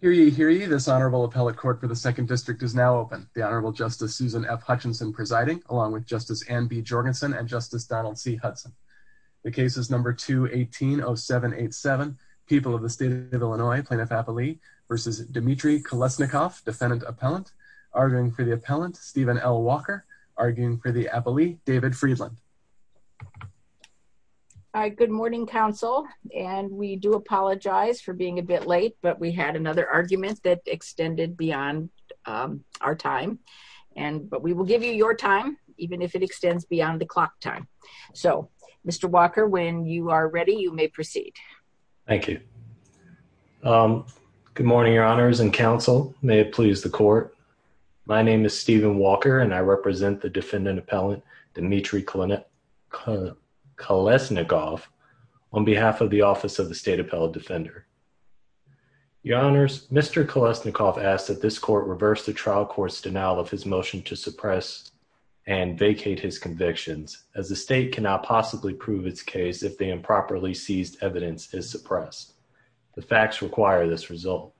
v. Demetri Kolesnikov, defendant-appellant, arguing for the appellant, Stephen L. Walker, arguing for the appellee, David Friedland. Good morning, counsel, and we do apologize for being a bit late, but we had another argument that extended beyond our time, but we will give you your time, even if it extends beyond the clock time. So, Mr. Walker, when you are ready, you may proceed. Thank you. Good morning, your honors and counsel. May it please the court. My name is Stephen Walker, defendant-appellant, Demetri Kolesnikov, on behalf of the Office of the State Appellate Defender. Your honors, Mr. Kolesnikov asked that this court reverse the trial court's denial of his motion to suppress and vacate his convictions, as the state cannot possibly prove its case if the improperly seized evidence is suppressed. The facts require this result.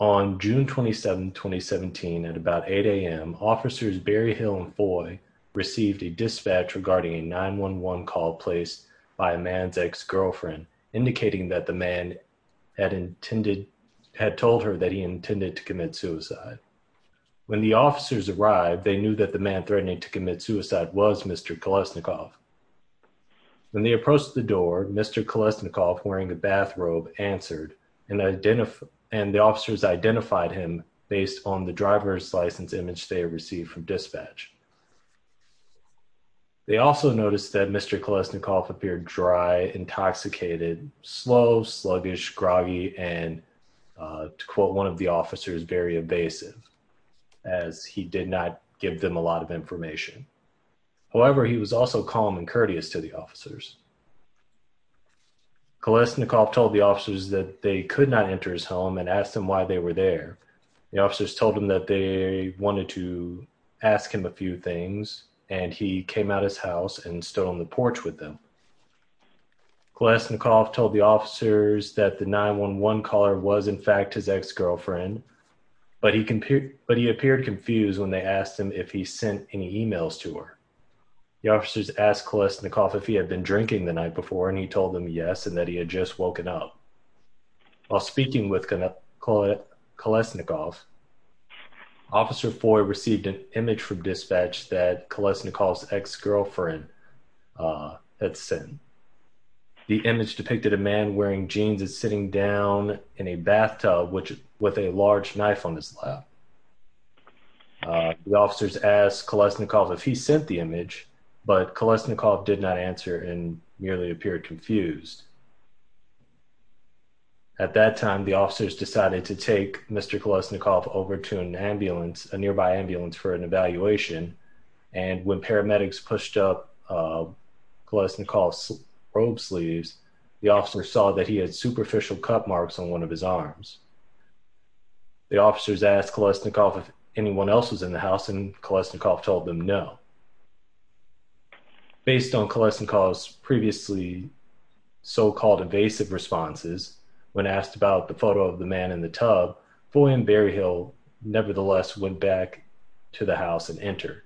On June 27, 2017, at about 8 a.m., officers Berryhill and Foy received a dispatch regarding a 911 call placed by a man's ex-girlfriend, indicating that the man had told her that he intended to commit suicide. When the officers arrived, they knew that the man threatening to commit suicide was Mr. Kolesnikov. When they approached the door, Mr. Kolesnikov, wearing a bathrobe, answered, and the officers identified him based on the driver's license image they had received from dispatch. They also noticed that Mr. Kolesnikov appeared dry, intoxicated, slow, sluggish, groggy, and, to quote one of the officers, very evasive, as he did not give them a lot of information. However, he was also calm and courteous to the officers. Kolesnikov told the officers that they could not enter his home and asked him why they were there. The officers told him that they wanted to ask him a few things, and he came out of his house and stood on the porch with them. Kolesnikov told the officers that the 911 caller was, in fact, his ex-girlfriend, but he appeared confused when they asked him if he sent any emails to her. The officers asked Kolesnikov if he had been drinking the night before, and he told them yes, and that he had just woken up. While speaking with Kolesnikov, Officer Foy received an image from dispatch that Kolesnikov's ex-girlfriend had sent. The image depicted a man wearing jeans and sitting down in a bathtub with a large knife on his lap. The officers asked Kolesnikov if he sent the image, but Kolesnikov did not answer and merely appeared confused. At that time, the officers decided to take Mr. Kolesnikov over to an ambulance, a nearby ambulance, for an evaluation, and when paramedics pushed up Kolesnikov's robe sleeves, the officers saw that he had superficial cut marks on one of his arms. The officers asked Kolesnikov if anyone else was in the house, and Kolesnikov told them no. Based on Kolesnikov's previously so-called evasive responses, when asked about the photo of the man in the tub, Foy and Berryhill nevertheless went back to the house and entered.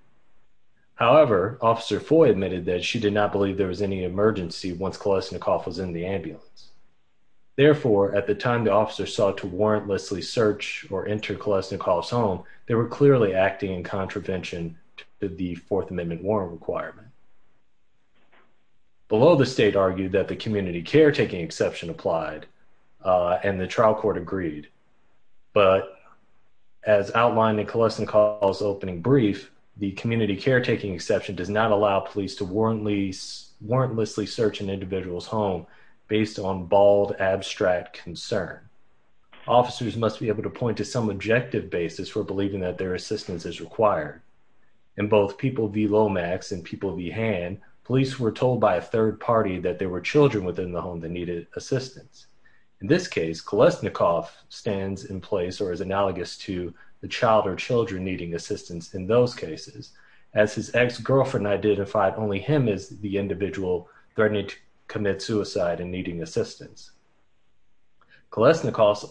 However, Officer Foy admitted that she did not believe there was any emergency once Kolesnikov was in the ambulance. Therefore, at the time the officers sought to warrantlessly search or enter Kolesnikov's home, they were clearly acting in contravention to the Fourth Amendment warrant requirement. Below, the state argued that the community caretaking exception applied, and the trial court agreed, but as outlined in Kolesnikov's opening brief, the community based on bald, abstract concern. Officers must be able to point to some objective basis for believing that their assistance is required. In both People v. Lomax and People v. Hand, police were told by a third party that there were children within the home that needed assistance. In this case, Kolesnikov stands in place or is analogous to the child or children needing assistance in those cases, as his ex-girlfriend identified only him as the individual threatening to commit suicide and needing assistance. Kolesnikov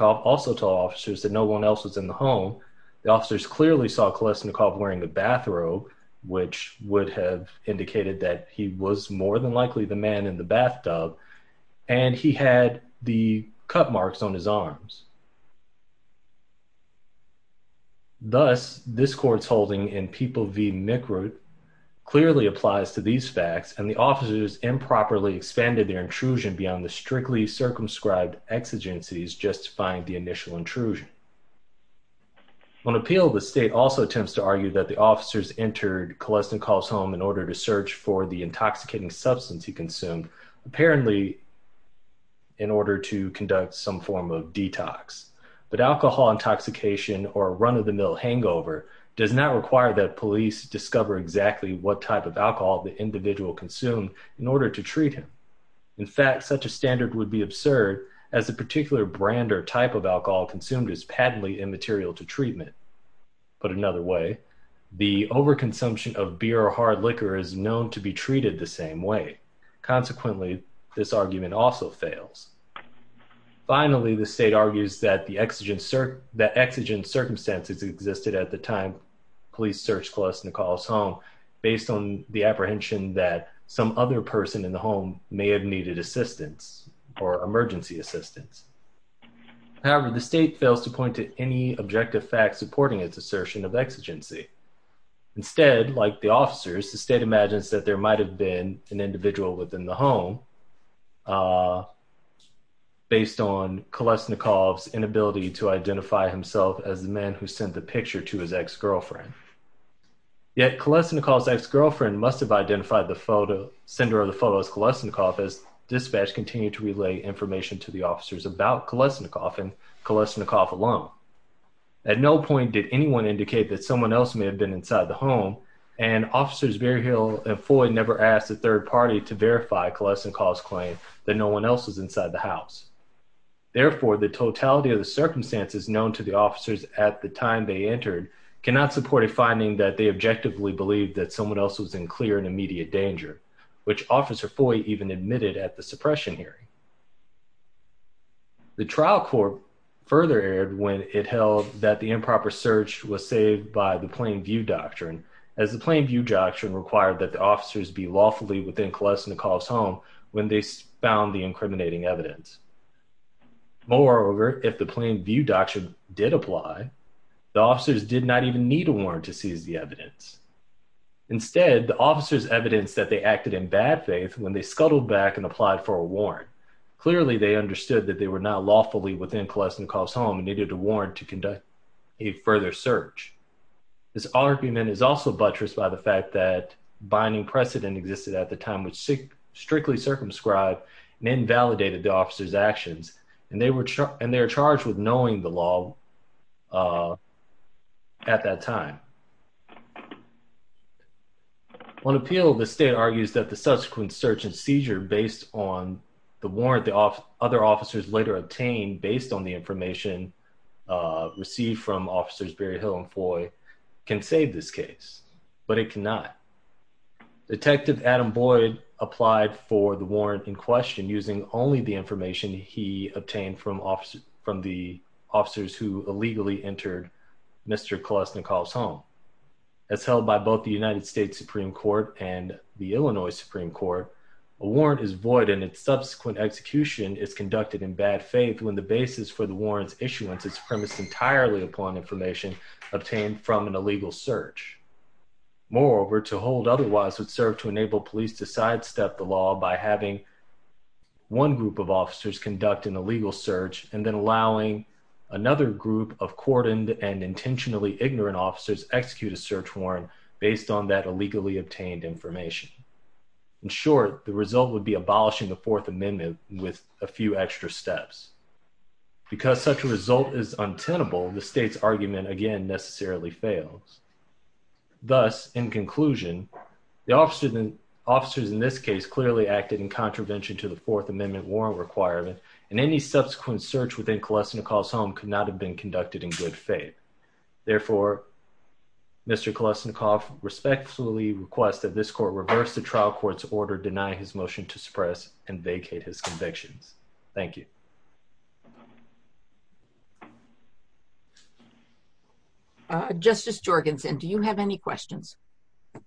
also told officers that no one else was in the home. The officers clearly saw Kolesnikov wearing a bathrobe, which would have indicated that he was more than likely the man in the bathtub, and he had the cut marks on his arms. Thus, this court's holding in People v. Mikrut clearly applies to these facts, and the officers improperly expanded their intrusion beyond the strictly circumscribed exigencies justifying the initial intrusion. On appeal, the state also attempts to argue that the officers entered Kolesnikov's home in order to search for the intoxicating substance he consumed, apparently in order to conduct some form of detox. But alcohol intoxication or run-of-the-mill hangover does not require that police discover exactly what type of alcohol the individual consumed in order to treat him. In fact, such a standard would be absurd, as the particular brand or type of alcohol consumed is patently immaterial to treatment. Put another way, the overconsumption of beer or hard liquor is known to be treated the same way. Consequently, this argument also fails. Finally, the state argues that exigent circumstances existed at the time police searched Kolesnikov's home based on the apprehension that some other person in the home may have needed assistance or emergency assistance. However, the state fails to point to any objective fact supporting its assertion of exigency. Instead, like the officers, the state imagines that there might have been an individual within the home based on Kolesnikov's inability to identify himself as the man who sent the picture to his ex-girlfriend. Yet, Kolesnikov's ex-girlfriend must have identified the sender of the photo as Kolesnikov as dispatch continued to relay information to the officers about Kolesnikov and Kolesnikov alone. At no point did anyone indicate that someone else may have been inside the home, and officers Berryhill and Foy never asked the third party to verify Kolesnikov's claim that no one else was inside the house. Therefore, the totality of the circumstances known to the officers at the time they entered cannot support a finding that they objectively believed that Officer Foy even admitted at the suppression hearing. The trial court further erred when it held that the improper search was saved by the Plain View Doctrine, as the Plain View Doctrine required that the officers be lawfully within Kolesnikov's home when they found the incriminating evidence. Moreover, if the Plain View Doctrine did apply, the officers did not even need a warrant to seize the evidence. Instead, the officers evidenced that they acted in bad faith when they scuttled back and applied for a warrant. Clearly, they understood that they were not lawfully within Kolesnikov's home and needed a warrant to conduct a further search. This argument is also buttressed by the fact that binding precedent existed at the time which strictly circumscribed and invalidated the officers' actions, and they were charged with knowing the law at that time. On appeal, the state argues that the subsequent search and seizure based on the warrant the other officers later obtained based on the information received from Officers Berryhill and Foy can save this case, but it cannot. Detective Adam Boyd applied for the warrant in question using only the information he obtained from the officers who illegally entered Mr. Kolesnikov's home. As held by both the United States Supreme Court and the Illinois Supreme Court, a warrant is void and its subsequent execution is conducted in bad faith when the basis for the warrant's issuance is premised entirely upon information obtained from an illegal search. Moreover, to hold otherwise would serve to enable police to sidestep the law by having one group of officers conduct an illegal search and then allowing another group of cordoned and intentionally ignorant officers execute a search warrant based on that illegally obtained information. In short, the result would be abolishing the Fourth Amendment with a few extra steps. Because such a result is untenable, the state's argument again necessarily fails. Thus, in conclusion, the officers in this case clearly acted in contravention to the Fourth Amendment warrant requirement and any subsequent search within Kolesnikov's home could not have been conducted in good faith. Therefore, Mr. Kolesnikov respectfully requests that this court reverse the trial court's order denying his motion to suppress and vacate his convictions. Thank you. Justice Jorgensen, do you have any questions?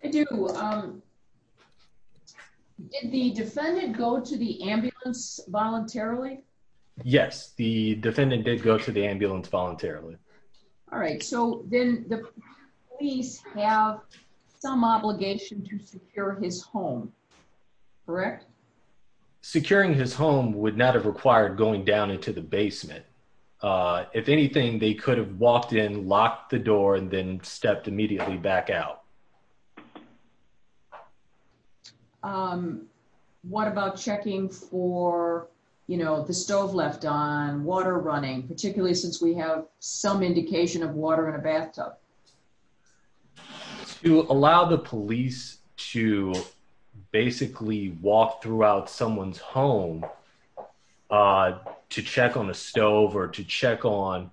I do. Did the defendant go to the ambulance voluntarily? Yes, the defendant did go to the ambulance voluntarily. All right, so then the police have some obligation to secure his home, correct? Securing his home would not have required going down into the basement. If anything, they could have walked in, locked the door, and then stepped immediately back out. What about checking for, you know, the stove left on, water running, particularly since we have some indication of water in a bathtub? To allow the police to basically walk throughout someone's home to check on a stove or to check on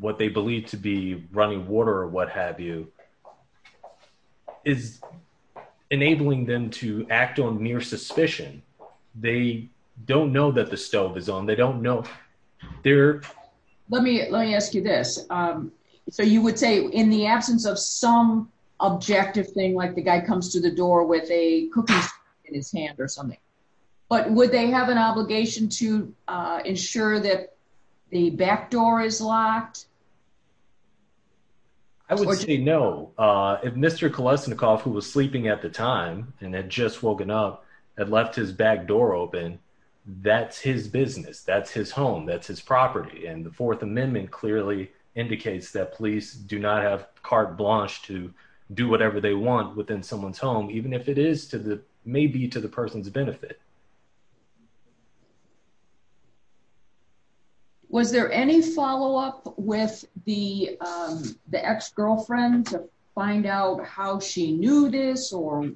what they believe to be running water or what have you is enabling them to act on mere suspicion. They don't know that the stove is on. They don't know. They're... Let me ask you this. So you would say in the absence of some objective thing, like the guy comes to the door with a cookie in his hand or something, but would they have an obligation to ensure that the back door is locked? I would say no. If Mr. Kolesnikov, who was sleeping at the time and had just woken up, had left his back door open, that's his business. That's his home. That's his property. And the Fourth Amendment clearly indicates that police do not have carte blanche to do whatever they want within someone's home, even if it may be to the person's benefit. Was there any follow-up with the ex-girlfriend to find out how she knew this or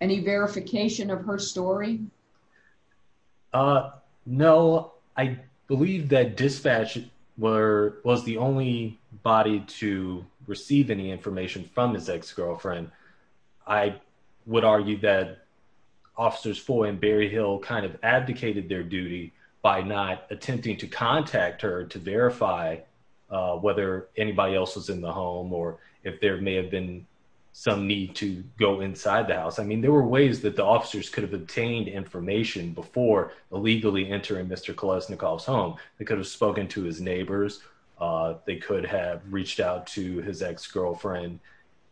any verification of her story? No. I believe that dispatch was the only body to receive any information from his ex-girlfriend. I would argue that Officers Foy and Berryhill kind of abdicated their duty by not attempting to contact her to verify whether anybody else was in the home or if there may have been some need to go inside the house. I mean, there were ways that the officers could have obtained information before illegally entering Mr. Kolesnikov's home. They could have spoken to his neighbors. They could have reached out to his ex-girlfriend.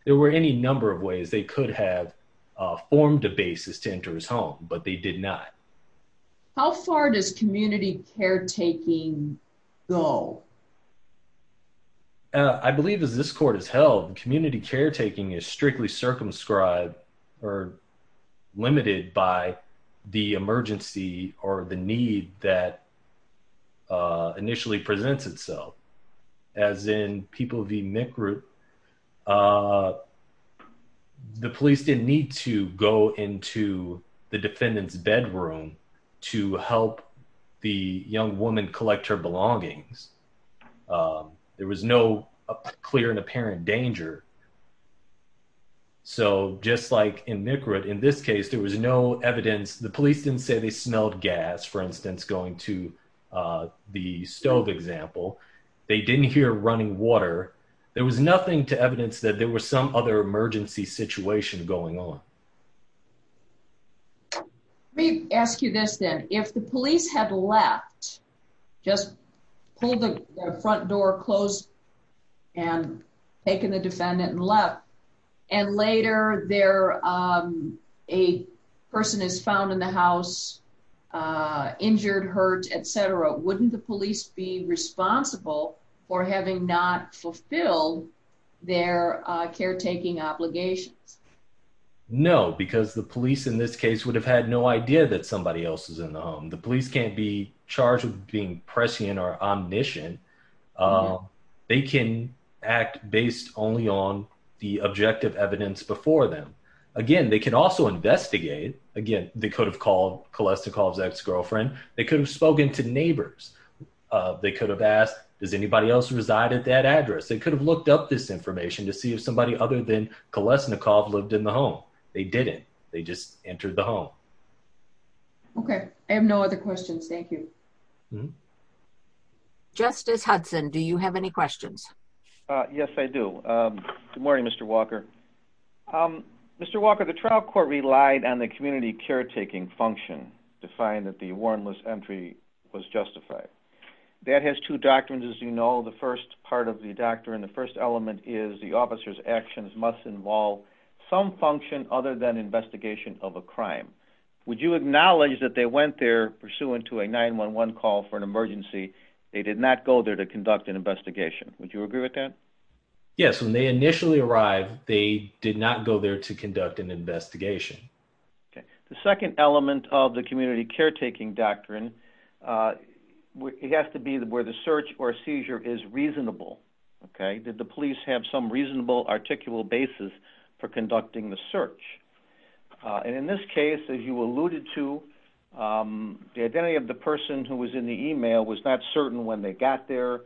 There were any number of ways. They could have formed a basis to enter his home, but they did not. How far does community caretaking go? I believe as this court has held, community caretaking is strictly circumscribed or limited by the emergency or the need that initially presents itself. As in People v. McRoot, the police didn't need to go into the defendant's bedroom to help the young woman collect her belongings. There was no clear and apparent danger. So just like in McRoot, in this case, there was no evidence. The police didn't say they smelled gas, for instance, going to the stove example. They didn't hear running water. There was nothing to evidence that there was some other emergency situation going on. Let me ask you this then. If the police had left, just pulled the front door closed and taken the defendant and left, and later a person is found in the house injured, hurt, etc., wouldn't the police be responsible for having not fulfilled their caretaking obligations? No, because the police in this case would have had no idea that prescient or omniscient. They can act based only on the objective evidence before them. Again, they could also investigate. Again, they could have called Kolesnikov's ex-girlfriend. They could have spoken to neighbors. They could have asked, does anybody else reside at that address? They could have looked up this information to see if somebody other than Kolesnikov lived in the home. They didn't. They just entered the home. Okay. I have no other questions. Thank you. Justice Hudson, do you have any questions? Yes, I do. Good morning, Mr. Walker. Mr. Walker, the trial court relied on the community caretaking function to find that the warrantless entry was justified. That has two doctrines, as you know. The first part of the doctrine, the first element is the officer's actions must involve some function other than investigation of a crime. Would you acknowledge that they went there pursuant to a 911 call for an emergency? They did not go there to conduct an investigation. Would you agree with that? Yes. When they initially arrived, they did not go there to conduct an investigation. Okay. The second element of the community caretaking doctrine has to be where the search or seizure is reasonable. Okay. Did the police have some articulable basis for conducting the search? In this case, as you alluded to, the identity of the person who was in the email was not certain when they got there.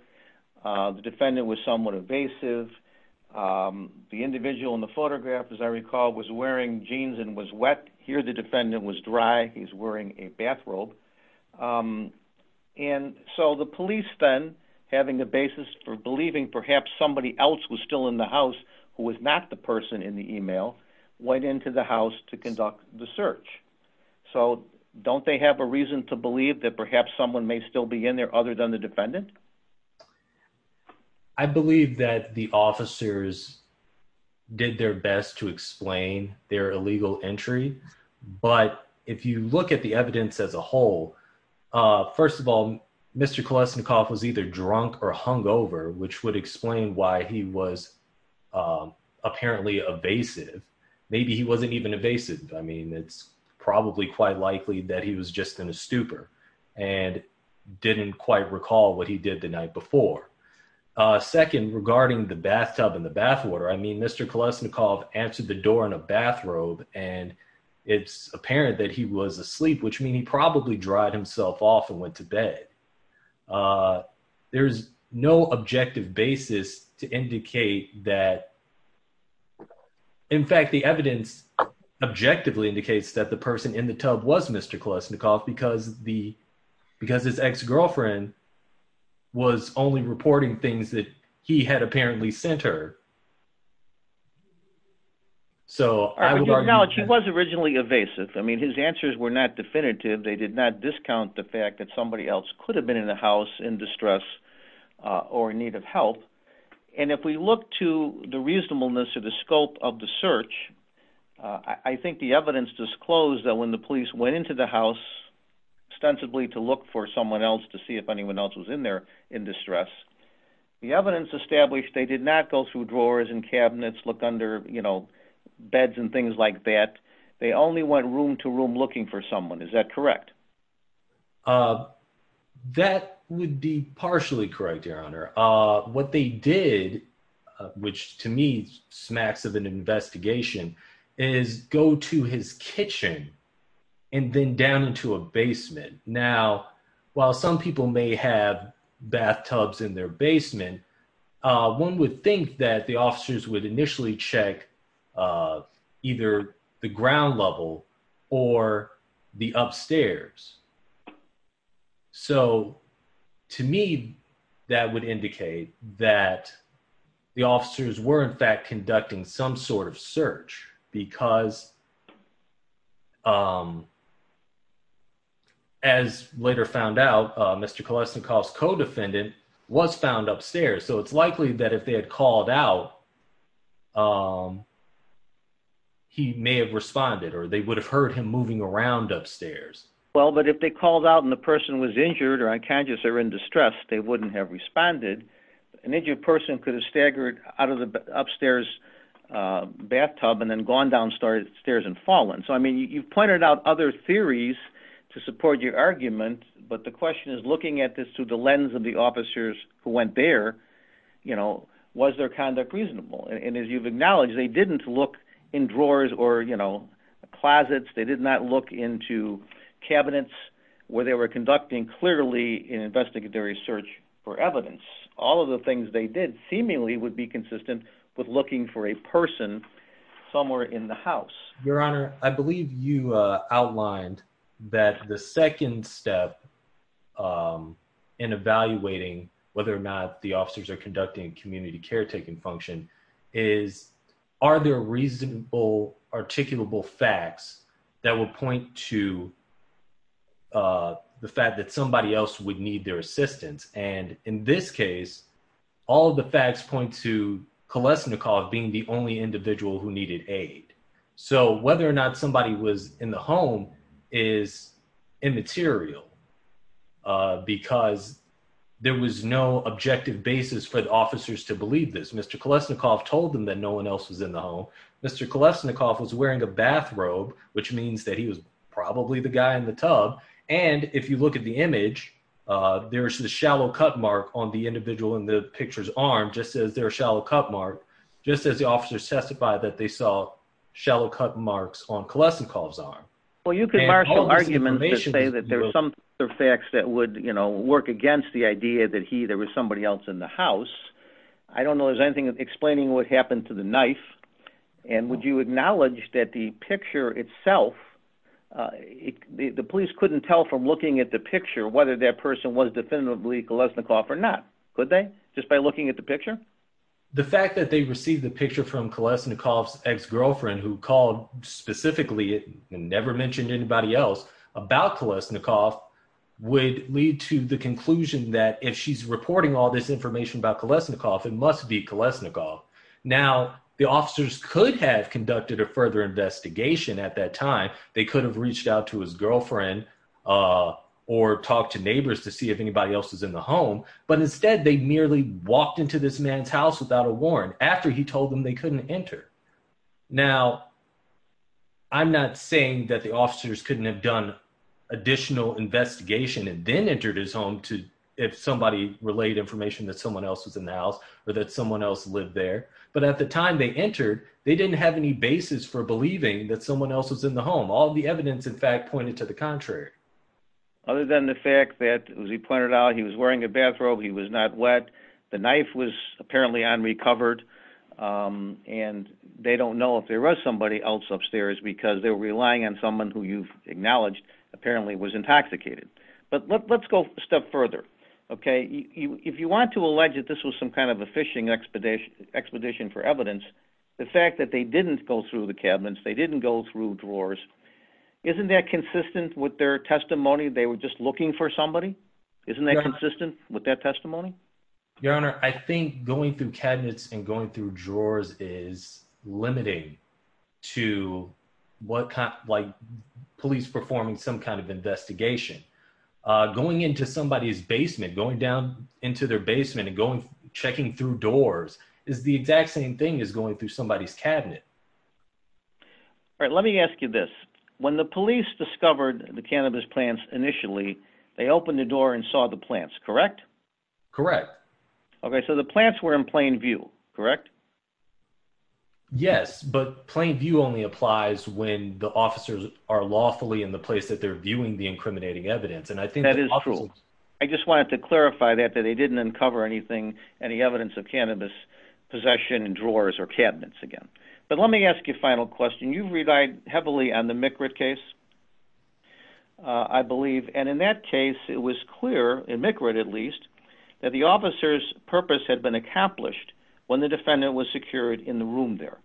The defendant was somewhat evasive. The individual in the photograph, as I recall, was wearing jeans and was wet. Here, the defendant was dry. He's wearing a bathrobe. The police then, having the basis for believing perhaps somebody else was still in the house who was not the person in the email, went into the house to conduct the search. Don't they have a reason to believe that perhaps someone may still be in there other than the defendant? I believe that the officers did their best to explain their illegal entry, but if you look at evidence as a whole, first of all, Mr. Kolesnikov was either drunk or hungover, which would explain why he was apparently evasive. Maybe he wasn't even evasive. I mean, it's probably quite likely that he was just in a stupor and didn't quite recall what he did the night before. Second, regarding the bathtub and the bathwater, I mean, Mr. Kolesnikov answered the door in a bathrobe, and it's apparent that he was asleep, which means he probably dried himself off and went to bed. There's no objective basis to indicate that. In fact, the evidence objectively indicates that the person in the tub was Mr. Kolesnikov because his ex-girlfriend was only reporting things that he had apparently sent her. So, I would argue- No, she was originally evasive. I mean, his answers were not definitive. They did not discount the fact that somebody else could have been in the house in distress or in need of help. And if we look to the reasonableness or the scope of the search, I think the evidence disclosed that when the police went into the house ostensibly to look for someone else to see if anyone else was in there in distress, the evidence established they did not go through drawers and cabinets, looked under beds and things like that. They only went room to room looking for someone. Is that correct? That would be partially correct, Your Honor. What they did, which to me smacks of an investigation, is go to his kitchen and then down into a basement. Now, while some people may have checked either the ground level or the upstairs. So, to me, that would indicate that the officers were, in fact, conducting some sort of search because, as later found out, Mr. Kolesnikov's co-defendant was found upstairs. So, it's likely that if they had called out, he may have responded or they would have heard him moving around upstairs. Well, but if they called out and the person was injured or unconscious or in distress, they wouldn't have responded. An injured person could have staggered out of the upstairs bathtub and then gone downstairs and fallen. So, I mean, you've pointed out other theories to support your argument, but the question is looking at this through the lens of the officers who went there, was their conduct reasonable? And as you've acknowledged, they didn't look in drawers or closets. They did not look into cabinets where they were conducting clearly an investigatory search for evidence. All of the things they did seemingly would be consistent with looking for a person somewhere in the house. Your Honor, I believe you outlined that the second step in evaluating whether or not the officers are conducting community caretaking function is, are there reasonable, articulable facts that would point to the fact that somebody else would need their assistance? And in this whether or not somebody was in the home is immaterial because there was no objective basis for the officers to believe this. Mr. Kolesnikoff told them that no one else was in the home. Mr. Kolesnikoff was wearing a bathrobe, which means that he was probably the guy in the tub. And if you look at the image, there's the shallow cut mark on the individual in the picture's arm, just as there are shallow cut mark, just as the officers testified that they saw marks on Kolesnikoff's arm. Well, you could argue that there's some facts that would, you know, work against the idea that he, there was somebody else in the house. I don't know. Is there anything explaining what happened to the knife? And would you acknowledge that the picture itself, the police couldn't tell from looking at the picture, whether that person was definitively Kolesnikoff or not? Could they just by looking at the picture? The fact that they received the picture from Kolesnikoff's ex-girlfriend who called specifically and never mentioned anybody else about Kolesnikoff would lead to the conclusion that if she's reporting all this information about Kolesnikoff, it must be Kolesnikoff. Now the officers could have conducted a further investigation at that time. They could have reached out to his girlfriend or talked to neighbors to see if anybody else was in the home, but instead they merely walked into this man's house without a warrant after he told them they couldn't enter. Now I'm not saying that the officers couldn't have done additional investigation and then entered his home to, if somebody relayed information that someone else was in the house or that someone else lived there, but at the time they entered, they didn't have any basis for believing that someone else was in the home. All the evidence in fact pointed to the contrary. Other than the fact that as pointed out, he was wearing a bathrobe, he was not wet, the knife was apparently unrecovered, and they don't know if there was somebody else upstairs because they're relying on someone who you've acknowledged apparently was intoxicated. But let's go a step further. If you want to allege that this was some kind of a phishing expedition for evidence, the fact that they didn't go through the cabinets, they didn't go through drawers, isn't that consistent with their isn't that consistent with that testimony? Your honor, I think going through cabinets and going through drawers is limiting to what kind of like police performing some kind of investigation. Going into somebody's basement, going down into their basement and going checking through doors is the exact same thing as going through somebody's cabinet. All right, let me ask you this. When the police discovered the cannabis plants initially, they opened the door and saw the plants, correct? Correct. Okay, so the plants were in plain view, correct? Yes, but plain view only applies when the officers are lawfully in the place that they're viewing the incriminating evidence. And I think that is true. I just wanted to clarify that they didn't uncover anything, any evidence of cannabis possession in drawers or cabinets again. But let case, it was clear, and make read at least that the officer's purpose had been accomplished when the defendant was secured in the room there.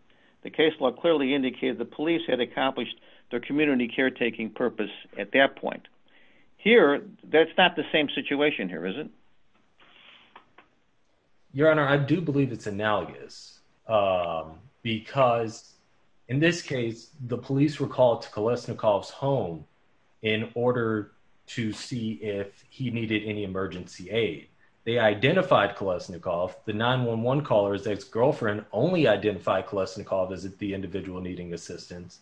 The case law clearly indicated the police had accomplished their community caretaking purpose at that point. Here, that's not the same situation here, is it? Your honor, I do believe it's analogous. Because in this case, the police were called to Kolesnikov's home in order to see if he needed any emergency aid. They identified Kolesnikov. The 911 caller's ex-girlfriend only identified Kolesnikov as the individual needing assistance.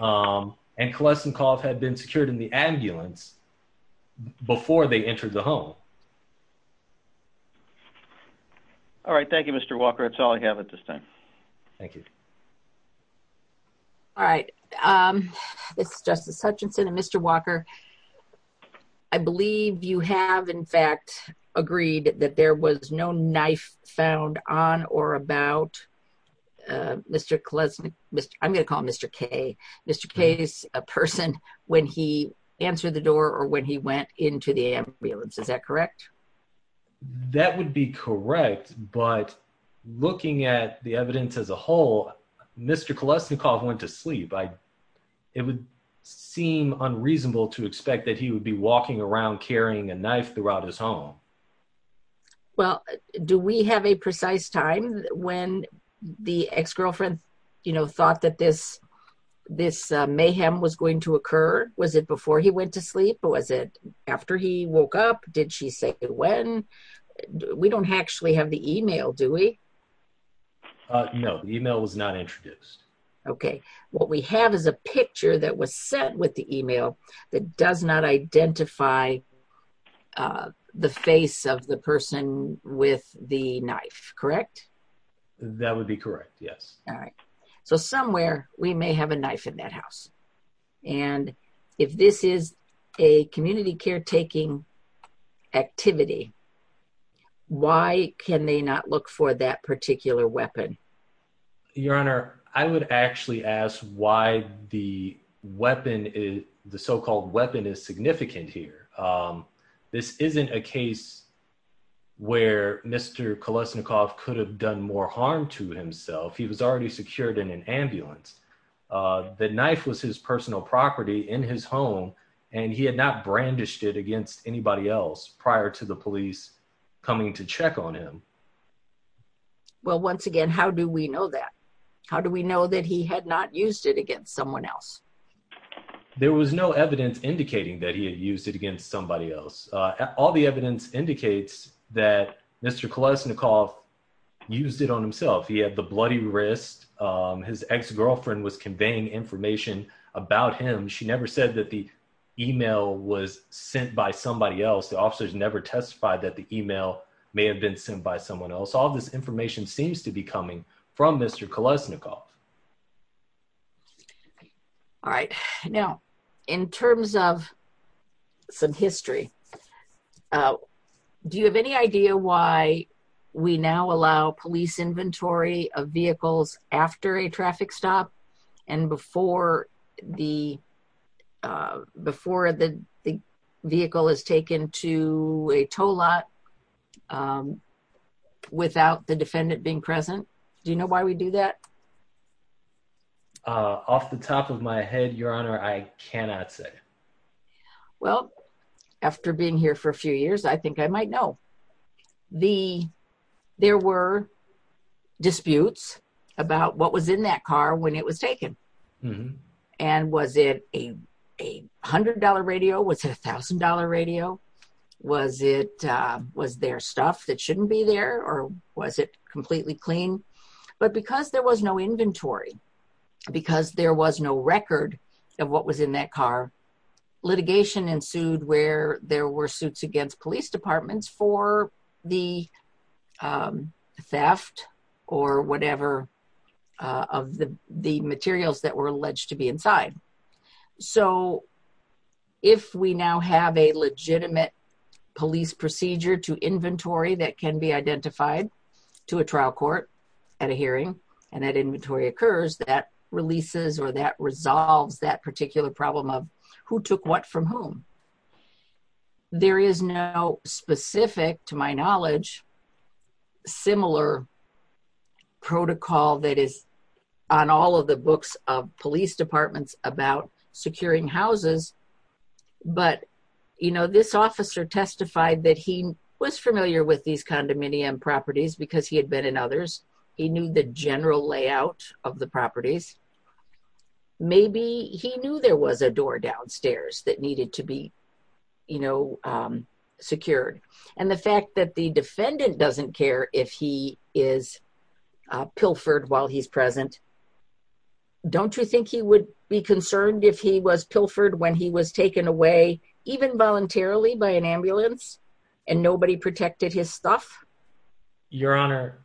And Kolesnikov had been secured in the ambulance before they entered the home. All right, thank you, Mr. Walker. That's all I have at this time. Thank you. All right. This is Justice Hutchinson and Mr. Walker. I believe you have, in fact, agreed that there was no knife found on or about Mr. Kolesnikov. I'm going to call him Mr. K. Mr. K is a person when he answered the door or when he went into the ambulance. Is that correct? That would be correct. But looking at the evidence as a whole, Mr. Kolesnikov went to sleep. It would seem unreasonable to expect that he would be walking around carrying a knife throughout his home. Well, do we have a precise time when the ex-girlfriend thought that this mayhem was going to occur? Was it before he went to sleep or was it after he woke up? Did she say when? We don't actually have the email, do we? No, the email was not introduced. Okay. What we have is a picture that was sent with the email that does not identify the face of the person with the knife, correct? That would be correct, yes. All right. So somewhere we may have a knife in that house. And if this is a community caretaking activity, why can they not look for that particular weapon? Your Honor, I would actually ask why the so-called weapon is significant here. This isn't a case where Mr. Kolesnikov could have done more harm to himself. He was already secured in an ambulance. The knife was his personal property in his home, and he had not brandished it against anybody else prior to the police coming to check on him. Well, once again, how do we know that? How do we know that he had not used it against someone else? There was no evidence indicating that he had used it against somebody else. All the evidence indicates that Mr. Kolesnikov used it on himself. He had the bloody wrist. His ex-girlfriend was conveying information about him. She never said that the email was sent by somebody else. The officers never testified that the email may have been sent by someone else. All this information seems to be coming from Mr. Kolesnikov. All right. Now, in terms of some history, do you have any idea why we now allow police inventory of vehicles after a traffic stop and before the vehicle is taken to a tow lot without the defendant being present? Do you know why we do that? Off the top of my head, Your Honor, I cannot say. Well, after being here for a few years, I think I might know. There were disputes about what was in that car when it was taken. Was it a $100 radio? Was it a $1,000 radio? Was there stuff that inventory? Because there was no record of what was in that car, litigation ensued where there were suits against police departments for the theft or whatever of the materials that were alleged to be inside. If we now have a legitimate police procedure to inventory that can be that releases or that resolves that particular problem of who took what from whom. There is no specific, to my knowledge, similar protocol that is on all of the books of police departments about securing houses. But this officer testified that he was familiar with condominium properties because he had been in others. He knew the general layout of the properties. Maybe he knew there was a door downstairs that needed to be secured. And the fact that the defendant doesn't care if he is pilfered while he's present, don't you think he would be concerned if he was pilfered when he was taken away even voluntarily by an ambulance and nobody protected his stuff? Your Honor,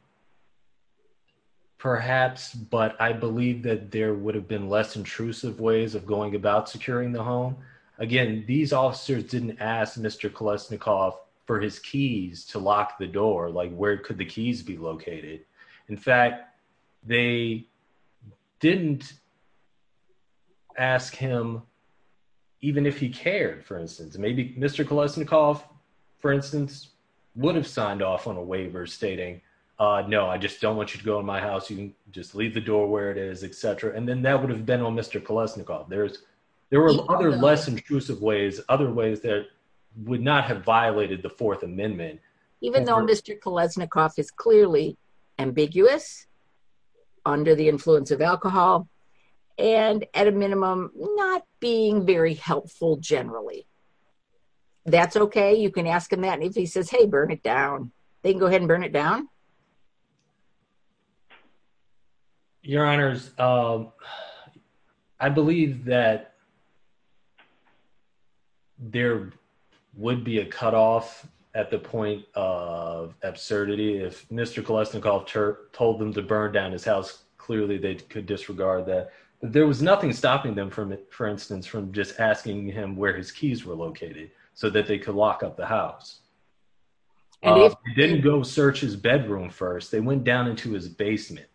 perhaps, but I believe that there would have been less intrusive ways of going about securing the home. Again, these officers didn't ask Mr. Kolesnikov for his keys to lock the door. Like where could the keys be located? In fact, they didn't ask him even if he cared, for instance. Maybe Mr. Kolesnikov, for instance, would have signed off on a waiver stating, no, I just don't want you to go in my house. You can just leave the door where it is, et cetera. And then that would have been on Mr. Kolesnikov. There were other less intrusive ways, other ways that would not have violated the Fourth Amendment. Even though Mr. Kolesnikov is clearly ambiguous under the influence of alcohol and at a minimum not being very helpful generally. That's okay. You can ask him that. And if he says, hey, burn it down, they can go ahead and burn it down. Your honors, I believe that there would be a cutoff at the point of absurdity. If Mr. Kolesnikov told them to burn down his house, clearly they could disregard that. There was nothing stopping them, for instance, from just asking him where his keys were located so that they could lock up the house. They didn't go search his bedroom first. They went down into his basement.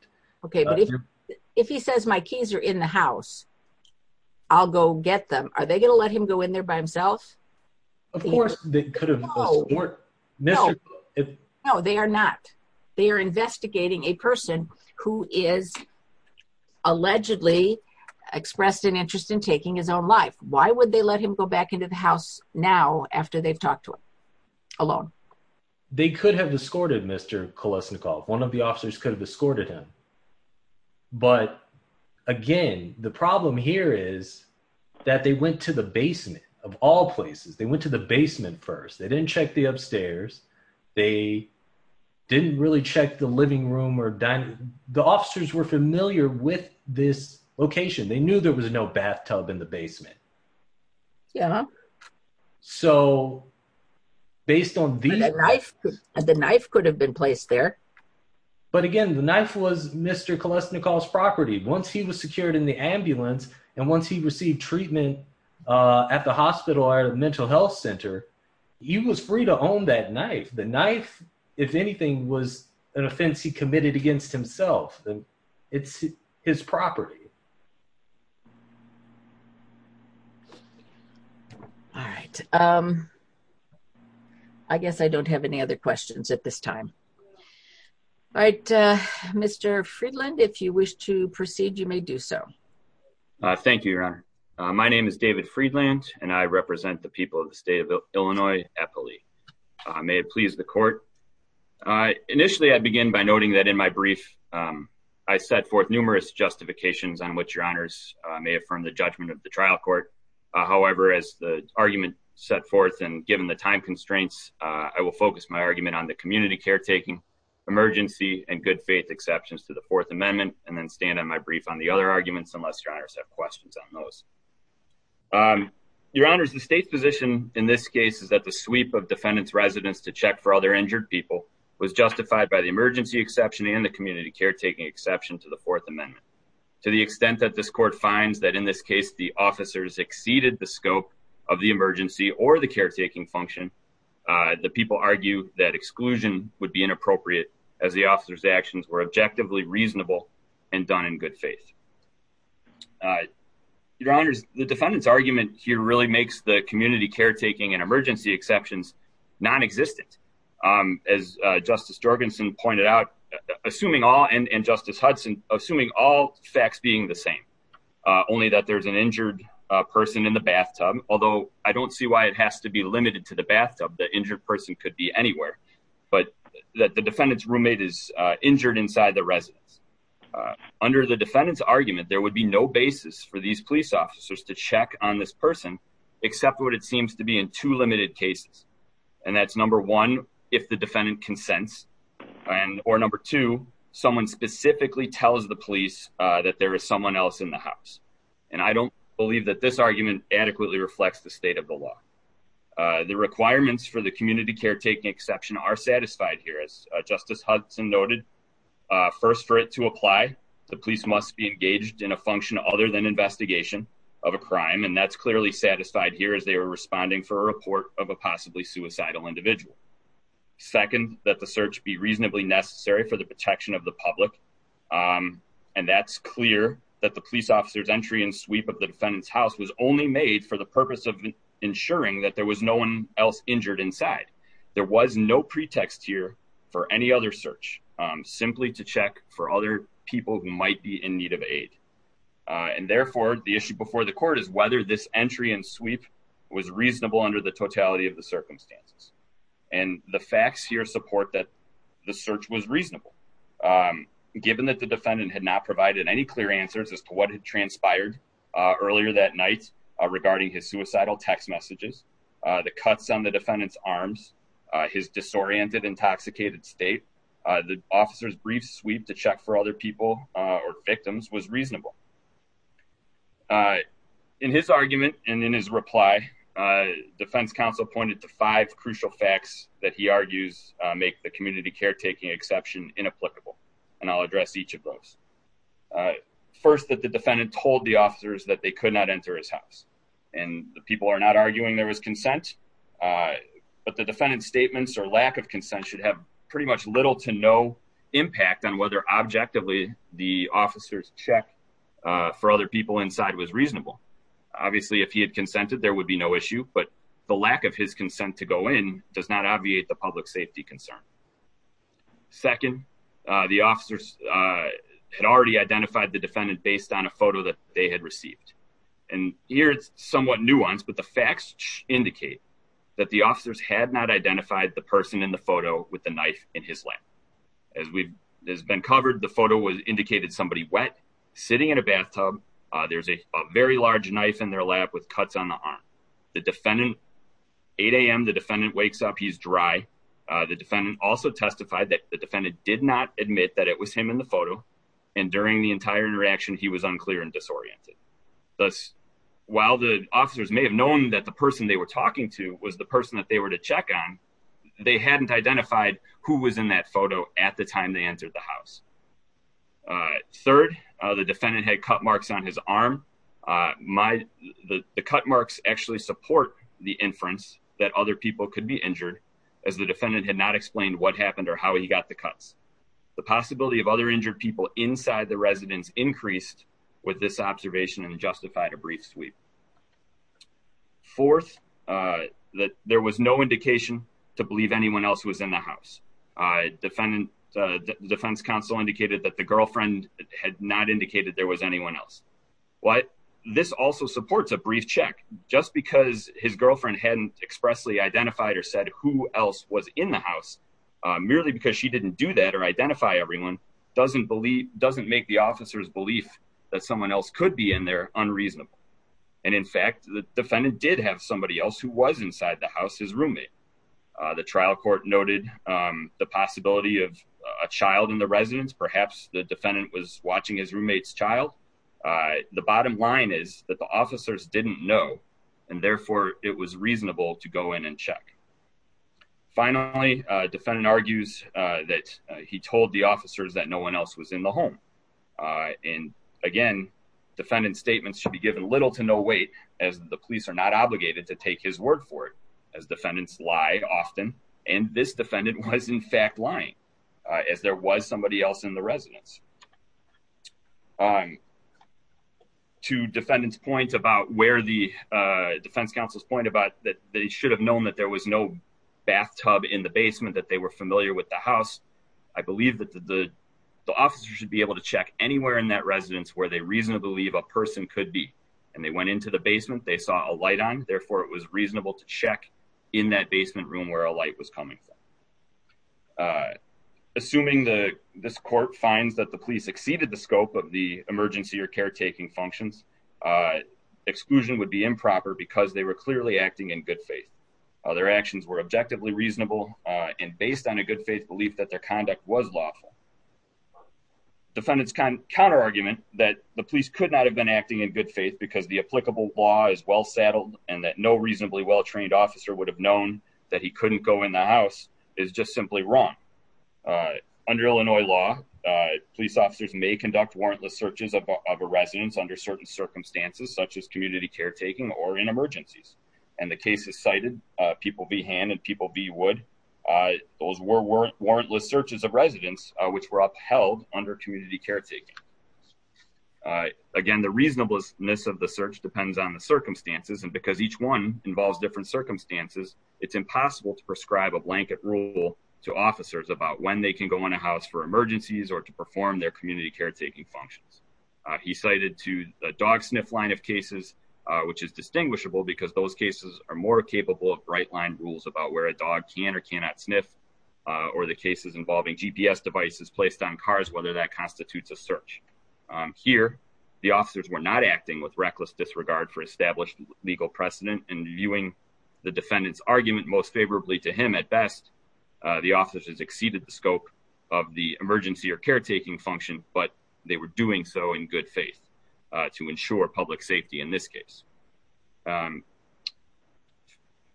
If he says my keys are in the house, I'll go get them. Are they going to let him go in there by himself? Of course they could have. No, they are not. They are investigating a person who is allegedly expressed an interest in taking his own life. Why would they let him go back into the alone? They could have escorted Mr. Kolesnikov. One of the officers could have escorted him. But again, the problem here is that they went to the basement of all places. They went to the basement first. They didn't check the upstairs. They didn't really check the living room or dining. The officers were familiar with this location. They knew there was no bathtub in the basement. The knife could have been placed there. But again, the knife was Mr. Kolesnikov's property. Once he was secured in the ambulance and once he received treatment at the hospital or mental health center, he was free to own that knife. The knife, if anything, was an offense he committed against himself. It's his property. All right. I guess I don't have any other questions at this time. All right. Mr. Friedland, if you wish to proceed, you may do so. Thank you, Your Honor. My name is David Friedland and I represent the people of the state of Illinois, Eppley. May it please the court. Initially, I begin by noting that in my brief, I set forth numerous justifications on which Your Honors may affirm the judgment of the trial court. However, as the argument set forth and given the time constraints, I will focus my argument on the community caretaking, emergency, and good faith exceptions to the Fourth Amendment and then stand on my brief on the other arguments unless Your Honors have questions on those. Your Honors, the state's position in this case is that the sweep of defendant's residence to check for other injured people was justified by the emergency exception and the community caretaking exception to the Fourth Amendment. To the extent that this court finds that in this case, the officers exceeded the scope of the emergency or the caretaking function, the people argue that exclusion would be inappropriate as the officers' actions were objectively reasonable and done in good faith. Your Honors, the defendant's argument here really makes the community caretaking and emergency exceptions non-existent. As Justice Jorgensen pointed out, assuming all, and Justice Hudson, assuming all facts being the same, only that there's an injured person in the bathtub, although I don't see why it has to be limited to the bathtub. The injured person could be anywhere, but that the defendant's roommate is injured inside the residence. Under the defendant's argument, there would be no basis for these officers to check on this person except what it seems to be in two limited cases. And that's number one, if the defendant consents, and or number two, someone specifically tells the police that there is someone else in the house. And I don't believe that this argument adequately reflects the state of the law. The requirements for the community caretaking exception are satisfied here. As Justice Hudson noted, first for it to apply, the police must be engaged in a function other than investigation of a crime. And that's clearly satisfied here as they were responding for a report of a possibly suicidal individual. Second, that the search be reasonably necessary for the protection of the public. And that's clear that the police officer's entry and sweep of the defendant's house was only made for the purpose of ensuring that there was no one else injured inside. There was no pretext here for any other search, simply to check for other people who might be in need of aid. And therefore, the issue before the court is whether this entry and sweep was reasonable under the totality of the circumstances. And the facts here support that the search was reasonable, given that the defendant had not provided any clear answers as to what had transpired earlier that night regarding his suicidal text messages, the cuts on the defendant's arms, his disoriented, intoxicated state, the officer's brief sweep to check for other people or victims was reasonable. In his argument and in his reply, defense counsel pointed to five crucial facts that he argues make the community caretaking exception inapplicable. And I'll address each of those. First, that the defendant told the officers that they could not enter his house. And the people are not arguing there was consent, but the defendant's statements or lack of consent should have pretty much little to no impact on whether objectively, the officers check for other people inside was reasonable. Obviously, if he had consented, there would be no issue, but the lack of his consent to go in does not obviate the public safety concern. Second, the officers had already identified the defendant based on a photo that they had received. And here it's somewhat nuanced, but the facts indicate that the officers had not identified the person in the photo with the knife in his lap. As we've been covered, the photo was indicated somebody wet, sitting in a bathtub. There's a very large knife in their lap with cuts on the arm. The defendant, 8am, the defendant wakes up, he's dry. The defendant also testified that the defendant did not admit that it was him in the photo. And during the entire interaction, he was unclear and disoriented. Thus, while the officers may have known that the person they were talking to was the person that they were to check on, they hadn't identified who was in that photo at the time they entered the house. Third, the defendant had cut marks on his arm. The cut marks actually support the inference that other people could be injured, as the defendant had not explained what happened or how he got the cuts. The possibility of other injured people inside the residence increased with this observation and justified a brief sweep. Fourth, that there was no indication to believe anyone else was in the house. Defendant, the defense counsel indicated that the girlfriend had not indicated there was anyone else. What this also supports a brief check, just because his girlfriend hadn't expressly identified or said who else was in the house, merely because she didn't do that or identify everyone, doesn't make the officer's belief that someone else could be in there unreasonable. And in fact, the defendant did have somebody else who was inside the house, his roommate. The trial court noted the possibility of a child in the residence, perhaps the defendant was watching his roommate's child. The bottom line is that the officers didn't know, and therefore it was reasonable to go in and check. Finally, defendant argues that he told the officers that no one else was in the home. And again, defendant statements should be given little to no weight as the police are not obligated to take his word for it, as defendants lie often. And this defendant was in fact lying, as there was somebody else in the residence. To defendant's point about where the defense counsel's point about that they should have known that there was no bathtub in the basement, that they were familiar with the house. I believe that the officer should be able to check anywhere in that residence where they reasonably believe a person could be. And they went into the basement, they saw a light on, therefore it was reasonable to check in that basement room where a light was coming from. Assuming this court finds that the police exceeded the scope of the emergency or caretaking functions, exclusion would be improper because they were clearly acting in good faith. Their actions were objectively reasonable and based on a good faith belief that their conduct was lawful. Defendant's counter argument that the police could not have been acting in good faith because the applicable law is well saddled and that no reasonably well-trained officer would have known that he couldn't go in the house is just simply wrong. Under Illinois law, police officers may conduct warrantless searches of a residence under certain circumstances, such as community caretaking or in emergencies. And the case is cited, people be hand and people be wood. Those were warrantless searches of residents which were upheld under community caretaking. Again, the reasonableness of the search depends on the circumstances and because each one involves different circumstances, it's impossible to prescribe a blanket rule to officers about when they can go in a house for emergencies or to perform their community line of cases, which is distinguishable because those cases are more capable of bright line rules about where a dog can or cannot sniff or the cases involving GPS devices placed on cars, whether that constitutes a search. Here, the officers were not acting with reckless disregard for established legal precedent and viewing the defendant's argument most favorably to him at best. The officers exceeded the scope of the emergency or caretaking function, but they were doing so in good faith to ensure public safety in this case.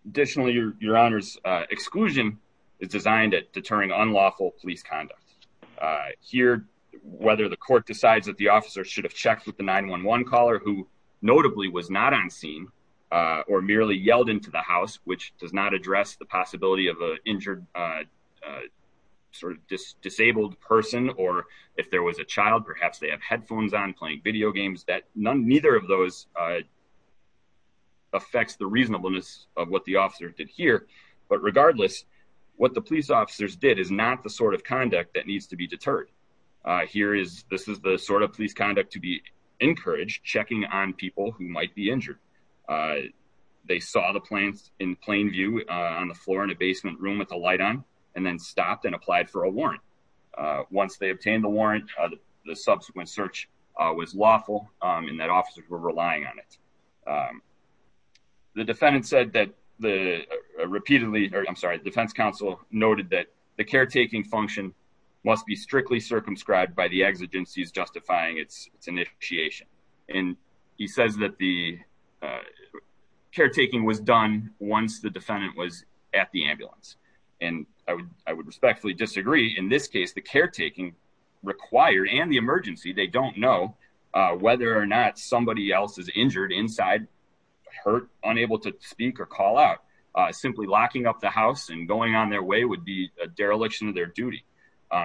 Additionally, your honor's exclusion is designed at deterring unlawful police conduct. Here, whether the court decides that the officer should have checked with the 911 caller who notably was not on scene or merely yelled into the house, which does not address the possibility of a injured, disabled person, or if there was a child, perhaps they have headphones on playing video games that none, neither of those affects the reasonableness of what the officer did here. But regardless, what the police officers did is not the sort of conduct that needs to be deterred. Here is, this is the sort of police conduct to be encouraged, checking on people who might be injured. They saw the plants in plain view on the floor in a basement room with the light on and then stopped and applied for a warrant. Once they obtained the warrant, the subsequent search was lawful and that officers were relying on it. The defendant said that the repeatedly, or I'm sorry, the defense counsel noted that the caretaking function must be strictly circumscribed by the exigencies justifying its initiation. And he says that the caretaking was done once the defendant was at the ambulance. And I would respectfully disagree. In this case, the caretaking required and the emergency, they don't know whether or not somebody else is injured inside, hurt, unable to speak or call out, simply locking up the house and going on their way would be a dereliction of their duty.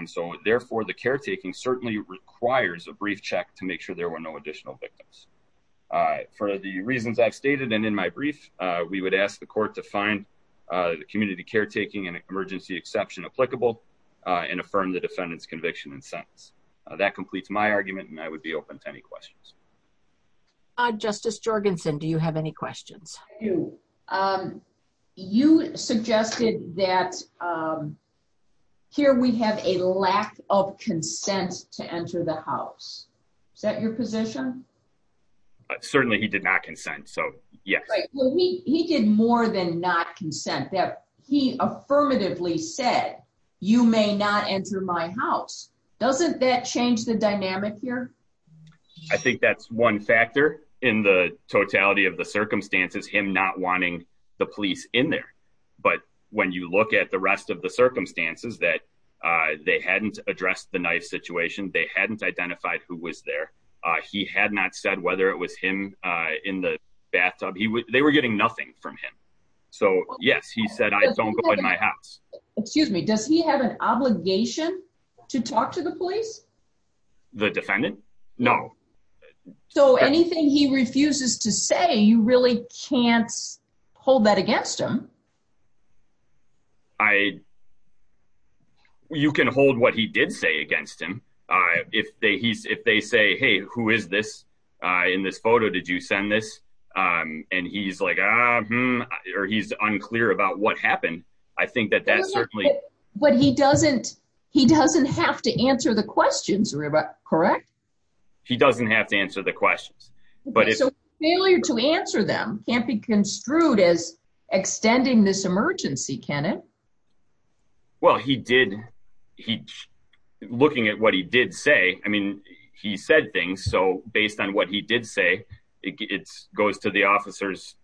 So therefore the caretaking certainly requires a brief check to make sure there were no additional victims. For the reasons I've stated and in my brief, we would ask the court to find the community caretaking and emergency exception applicable and affirm the defendant's conviction and sentence. That completes my argument and I would be open to any questions. Justice Jorgensen, do you have any questions? You suggested that here we have a lack of consent to enter the house. Is that your position? Certainly he did not consent. So yes, he did more than not consent that he affirmatively said, you may not enter my house. Doesn't that change the dynamic here? I think that's one factor in the totality of the circumstances, him not wanting the police in there. But when you look at the rest of the circumstances that they hadn't addressed the knife situation, they hadn't identified who was there. He had not said whether it was him in the bathtub. They were getting nothing from him. So yes, he said, I don't go in my house. Excuse me, does he have an obligation to talk to the police? The defendant? No. So anything he refuses to say, you really can't hold that against him. You can hold what he did say against him. If they say, hey, who is this? In this photo, did you send this? And he's like, or he's unclear about what happened. I think that that's certainly... But he doesn't have to answer the questions, correct? He doesn't have to answer the questions. So failure to answer them can't be construed as extending this emergency, can it? Well, he did. Looking at what he did say, I mean, he said things. So based on what he did say, it goes to the officer's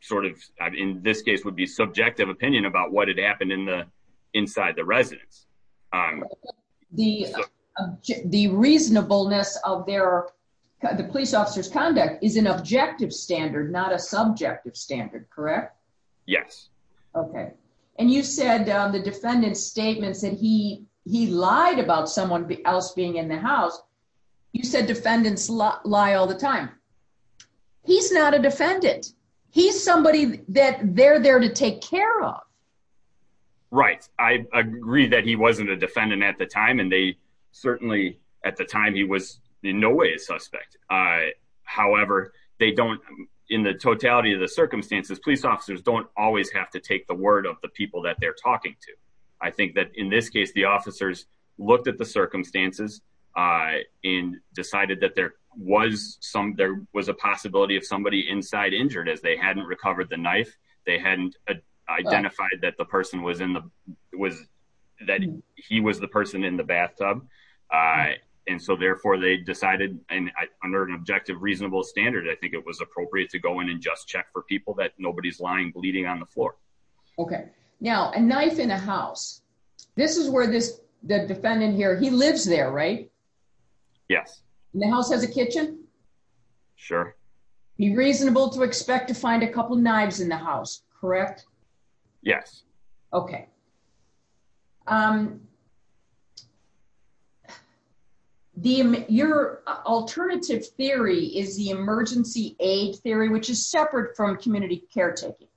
sort of, in this case, would be subjective opinion about what had happened inside the residence. The reasonableness of the police officer's conduct is an objective standard, not a subjective standard, correct? Yes. Okay. And you said the defendant's statements that he lied about someone else being in the house. You said defendants lie all the time. He's not a defendant. He's somebody that they're there to take care of. Right. I agree that he wasn't a defendant at the time, and certainly at the time, he was in no way a suspect. However, in the totality of the circumstances, police officers don't always have to take the word of the people that they're talking to. I think that in this case, the officers looked at the circumstances and decided that there was a possibility of identified that the person was in the, that he was the person in the bathtub. And so therefore, they decided under an objective reasonable standard, I think it was appropriate to go in and just check for people that nobody's lying bleeding on the floor. Okay. Now, a knife in a house. This is where the defendant here, he lives there, right? Yes. The house has a kitchen? Sure. Be reasonable to expect to find a couple knives in the house, correct? Yes. Okay. Your alternative theory is the emergency aid theory, which is separate from community care taking.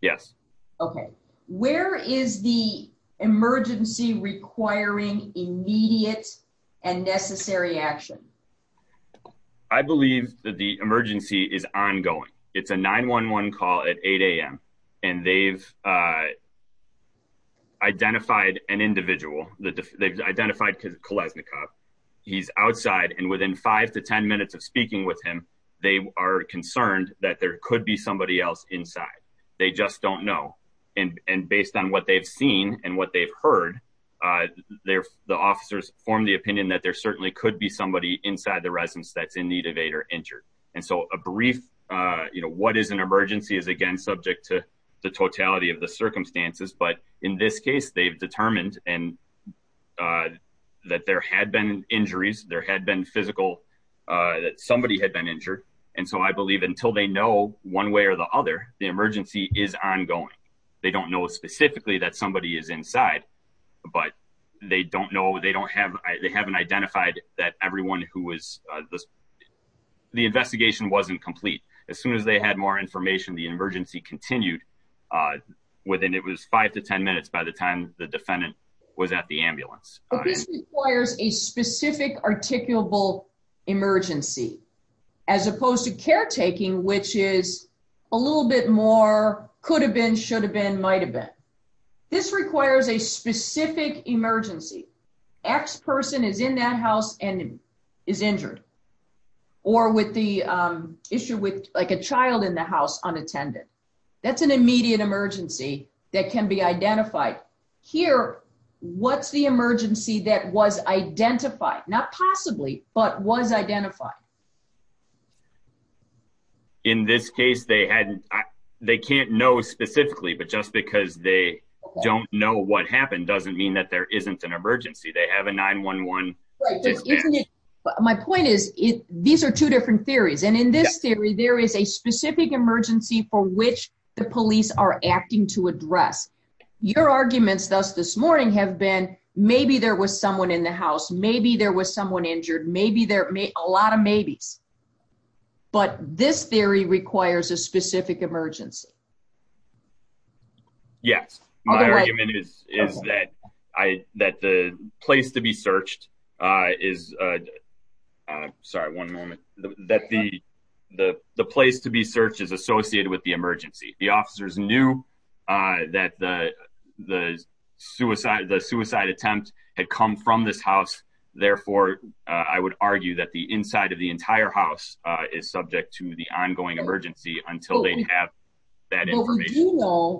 Yes. Okay. Where is the emergency requiring immediate and necessary action? I believe that the emergency is ongoing. It's a 911 call at 8am. And they've identified an individual that they've identified because Kolesnikov, he's outside and within five to 10 minutes of speaking with him, they are concerned that there could be somebody else inside. They just don't know. And based on what they've seen and what they've heard, they're the officers form the opinion that there certainly could be somebody inside the residence that's in need of aid or injured. And so a brief, you know, what is an emergency is again, subject to the totality of the circumstances. But in this case, they've determined and that there had been injuries, there had been physical, that somebody had been injured. And so I believe until they know one way or the other, the emergency is ongoing. They don't know specifically that somebody is inside. But they don't know they don't have they haven't identified that everyone who was the investigation wasn't complete. As soon as they had more information, the emergency continued within it was five to 10 minutes by the time the defendant was at the ambulance requires a specific articulable emergency, as opposed to caretaking, which is a little bit more could have been should specific emergency, X person is in that house and is injured. Or with the issue with like a child in the house unattended. That's an immediate emergency that can be identified here. What's the emergency that was identified not possibly but was identified. In this case, they hadn't, they can't know specifically, but just because they don't know what happened doesn't mean that there isn't an emergency. They have a 911. My point is, these are two different theories. And in this theory, there is a specific emergency for which the police are acting to address your arguments thus this morning have been maybe there was someone in the house, maybe there was someone Yes, my argument is, is that I that the place to be searched is sorry, one moment that the the place to be searched is associated with the emergency. The officers knew that the the suicide the suicide attempt had come from this house. Therefore, I would argue that the inside of the entire house is subject to the ongoing emergency until they have that information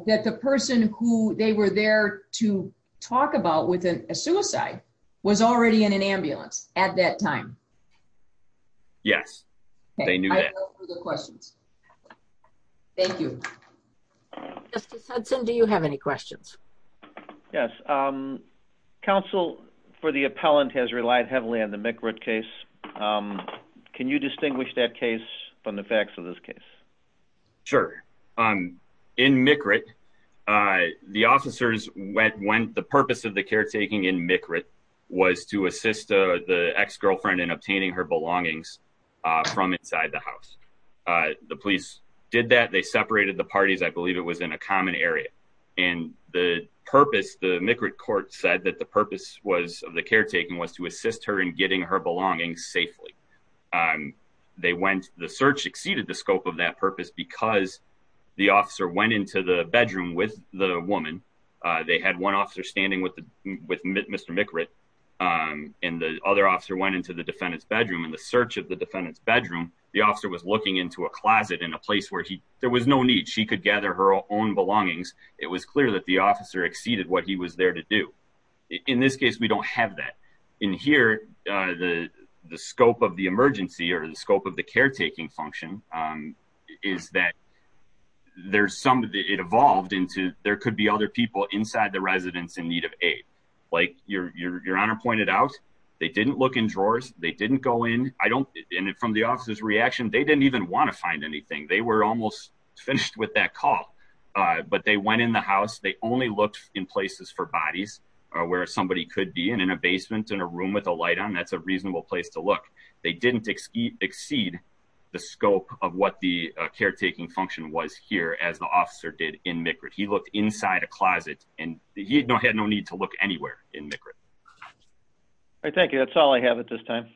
that the person who they were there to talk about with a suicide was already in an ambulance at that time. Yes, they knew the questions. Thank you. Justice Hudson, do you have any questions? Yes. Council for the appellant has relied heavily on the case. Can you distinguish that case from the facts of this case? Sure. Um, in the officers went when the purpose of the caretaking in was to assist the ex girlfriend in obtaining her belongings from inside the house. The police did that they separated the parties, I believe it was in a common area. And the purpose, the court said that the purpose was the caretaking was to assist her in getting her belongings safely. They went the search exceeded the scope of that purpose because the officer went into the bedroom with the woman. They had one officer standing with with Mr. McRae. And the other officer went into the defendant's bedroom and the search of the defendant's bedroom. The officer was looking into a closet in a place where he there was no need she could gather her own belongings. It was clear that the officer exceeded what he was there to do. In this case, we don't have that. In here. The scope of the emergency or the scope of the caretaking function is that there's some of it evolved into there could be other people inside the residents in need of aid. Like your honor pointed out, they didn't look in drawers, they didn't go in. I don't in it from the officer's reaction. They didn't even want to call. But they went in the house, they only looked in places for bodies, or where somebody could be in a basement in a room with a light on that's a reasonable place to look. They didn't exceed the scope of what the caretaking function was here as the officer did in Micra. He looked inside a closet and he had no had no need to look anywhere in the group. I thank you. That's all I have at this time.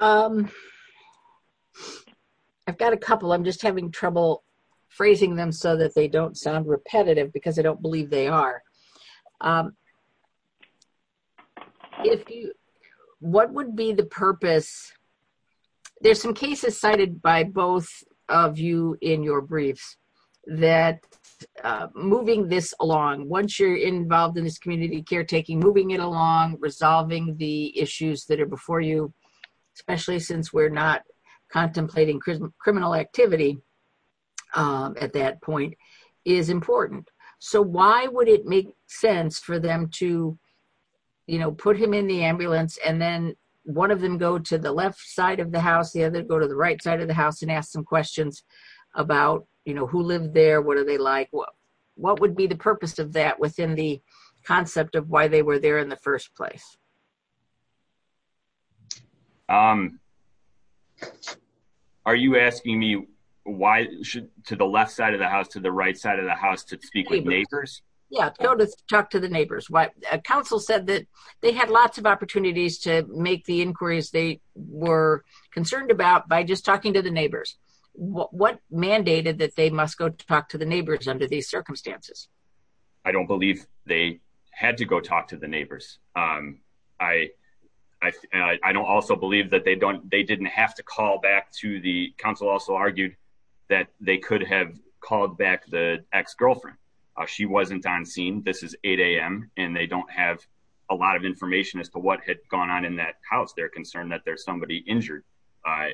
Um, I've got a couple, I'm just having trouble phrasing them so that they don't sound repetitive, because I don't believe they are. If you what would be the purpose? There's some cases cited by both of you in your briefs, that moving this along once you're involved in this community caretaking, moving it along resolving the issues that are before you, especially since we're not contemplating criminal activity at that point is important. So why would it make sense for them to, you know, put him in the ambulance and then one of them go to the left side of the house, the other go to the right side of the house and ask some questions about, you know, who lived there? What are they like? What would be the purpose of that within the concept of why they were there in the first place? Um, are you asking me why should to the left side of the house to the right side of the house to speak with neighbors? Yeah, go to talk to the neighbors. Council said that they had lots of opportunities to make the inquiries they were concerned about by just talking to the neighbors. What mandated that they must go talk to the neighbors under these circumstances? I don't believe they had to go talk to the neighbors. Um, I, I, I don't also believe that they don't, they didn't have to call back to the council also argued that they could have called back the ex-girlfriend. Uh, she wasn't on scene. This is 8 a.m. and they don't have a lot of information as to what had gone on in that house. They're concerned that there's somebody injured. Uh,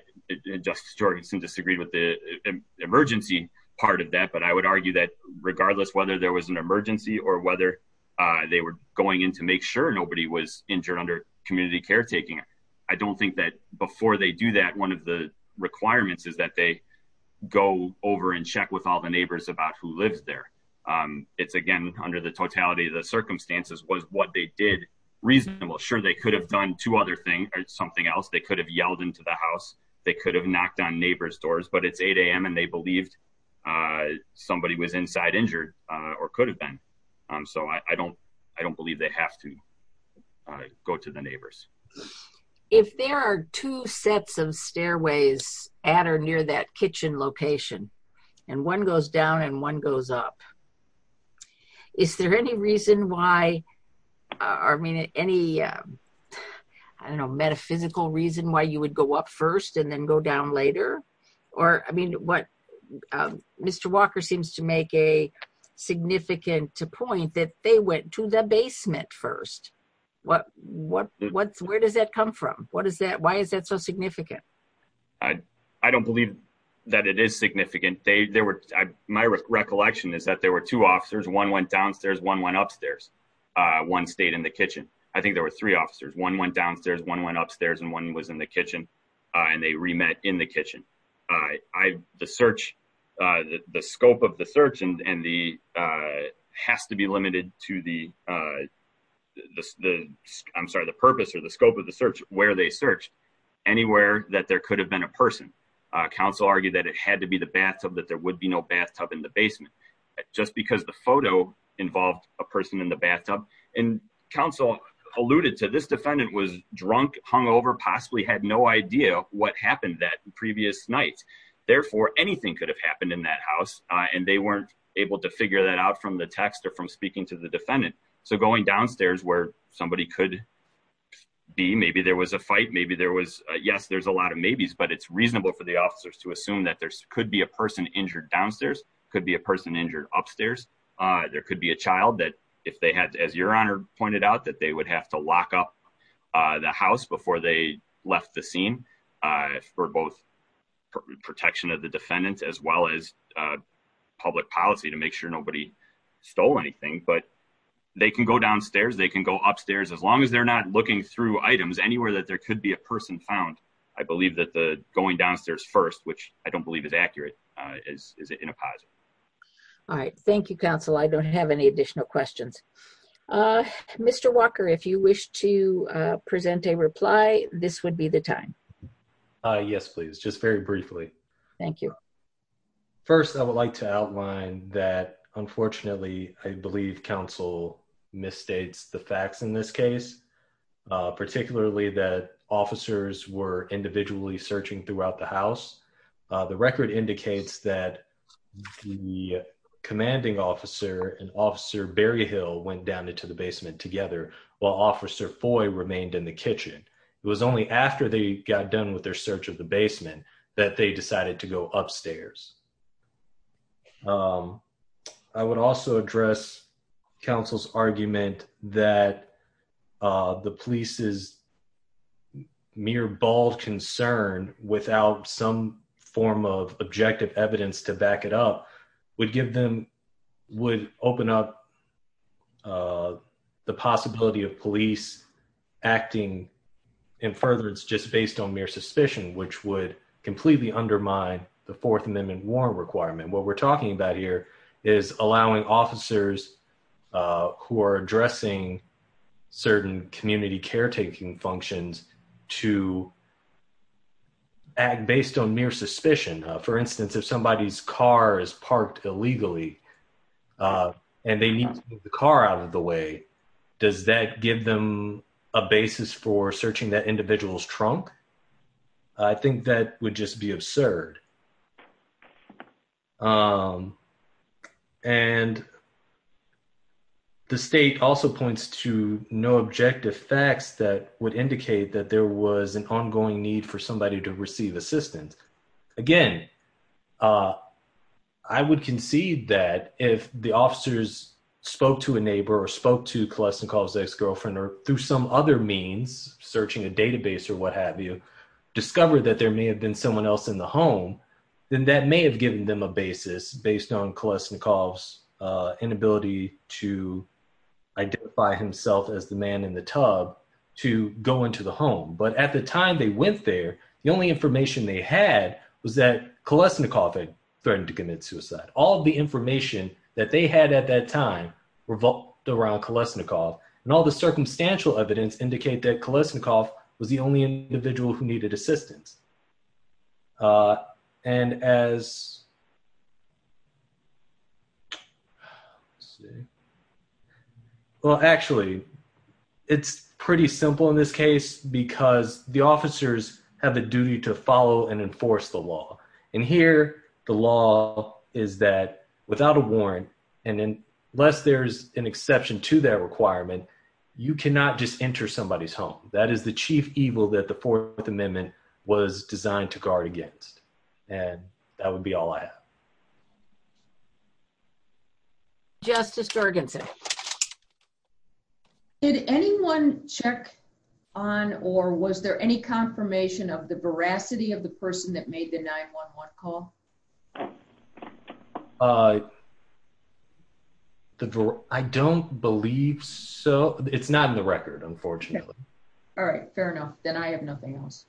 Justice Jorgensen disagreed with the emergency part of that, but I would argue that regardless whether there was an emergency or whether, uh, they were going in to make sure nobody was injured under community caretaking. I don't think that before they do that, one of the requirements is that they go over and check with all the neighbors about who lives there. Um, it's again, under the totality of the circumstances was what they did reasonable. Sure. They could have done two other things or something else. They could have yelled into the house. They could have knocked on neighbor's doors, but it's 8 a.m. and they believed, uh, somebody was inside injured, uh, or could have been. Um, so I, I don't, I don't believe they have to, uh, go to the neighbors. If there are two sets of stairways at or near that kitchen location and one goes down and one goes up, is there any reason why, I mean, any, um, I don't go up first and then go down later, or, I mean, what, um, Mr. Walker seems to make a significant point that they went to the basement first. What, what, what, where does that come from? What does that, why is that so significant? I, I don't believe that it is significant. They, they were, I, my recollection is that there were two officers. One went downstairs, one went upstairs. Uh, one stayed in the kitchen. I think there were three officers. One went downstairs, one went upstairs and one was in the kitchen. Uh, and they remet in the kitchen. Uh, I, the search, uh, the scope of the search and, and the, uh, has to be limited to the, uh, the, the, I'm sorry, the purpose or the scope of the search, where they search anywhere that there could have been a person. Uh, counsel argued that it had to be the bathtub, that there would be no bathtub in the basement just because the photo involved a person in the bathtub and counsel alluded to this defendant was drunk, hung over, possibly had no idea what happened that previous night. Therefore, anything could have happened in that house. Uh, and they weren't able to figure that out from the text or from speaking to the defendant. So going downstairs where somebody could be, maybe there was a fight, maybe there was a, yes, there's a lot of maybes, but it's reasonable for the officers to assume that there could be a person injured downstairs, could be a person injured upstairs. Uh, there could be a child that if they had, as your honor pointed out, that they would have to lock up, uh, the house before they left the scene, uh, for both protection of the defendants, as well as, uh, public policy to make sure nobody stole anything, but they can go downstairs. They can go upstairs as long as they're not looking through items anywhere that there could be a person found. I believe that the going downstairs first, which I don't believe is accurate, uh, is, is in a positive. All right. Thank you, counsel. I don't have any additional questions. Uh, Mr. Walker, if you wish to, uh, present a reply, this would be the time. Uh, yes, please. Just very briefly. Thank you. First, I would like to outline that unfortunately, I believe counsel misstates the facts in this case, uh, particularly that officers were individually searching throughout the house. Uh, the record indicates that the commanding officer and officer Berryhill went down into the basement together while officer Foy remained in the kitchen. It was only after they got done with their search of the basement that they decided to go upstairs. Um, I would also address counsel's argument that, uh, the police's mere bald concern without some form of objective evidence to back it up would give them, would open up, uh, the possibility of police acting in furtherance just based on mere suspicion, which would completely undermine the fourth amendment warrant requirement. What we're talking about here is allowing officers, uh, who are addressing certain community caretaking functions to act based on mere suspicion. Uh, for instance, if somebody's car is parked illegally, uh, and they need the car out of the way, does that give them a basis for searching that individual's trunk? I think that would just be absurd. Um, and the state also points to no objective facts that would indicate that there was an ongoing need for somebody to receive assistance. Again, uh, I would concede that if the officers spoke to a neighbor or spoke to Kolesnikov's ex-girlfriend or through some other means, searching a database or what have you, discovered that there may have been someone else in the home, then that may have given them a basis based on Kolesnikov's, uh, inability to identify himself as the man in the tub to go into the home. But at the time they went there, the only information they had was that Kolesnikov had threatened to commit suicide. All the information that they had at that time revolved around Kolesnikov and all the circumstantial evidence indicate that Kolesnikov was the only individual who needed assistance. Uh, and as, let's see, well actually, it's pretty simple in this case because the officers have a duty to follow and enforce the law. And here, the law is that without a warrant, and unless there's an exception to that requirement, you cannot just enter somebody's that the Fourth Amendment was designed to guard against. And that would be all I have. Justice Jorgensen, did anyone check on or was there any confirmation of the veracity of the person that made the 911 call? Uh, I don't believe so. It's not in the record, unfortunately. All right, fair enough. Then I have nothing else.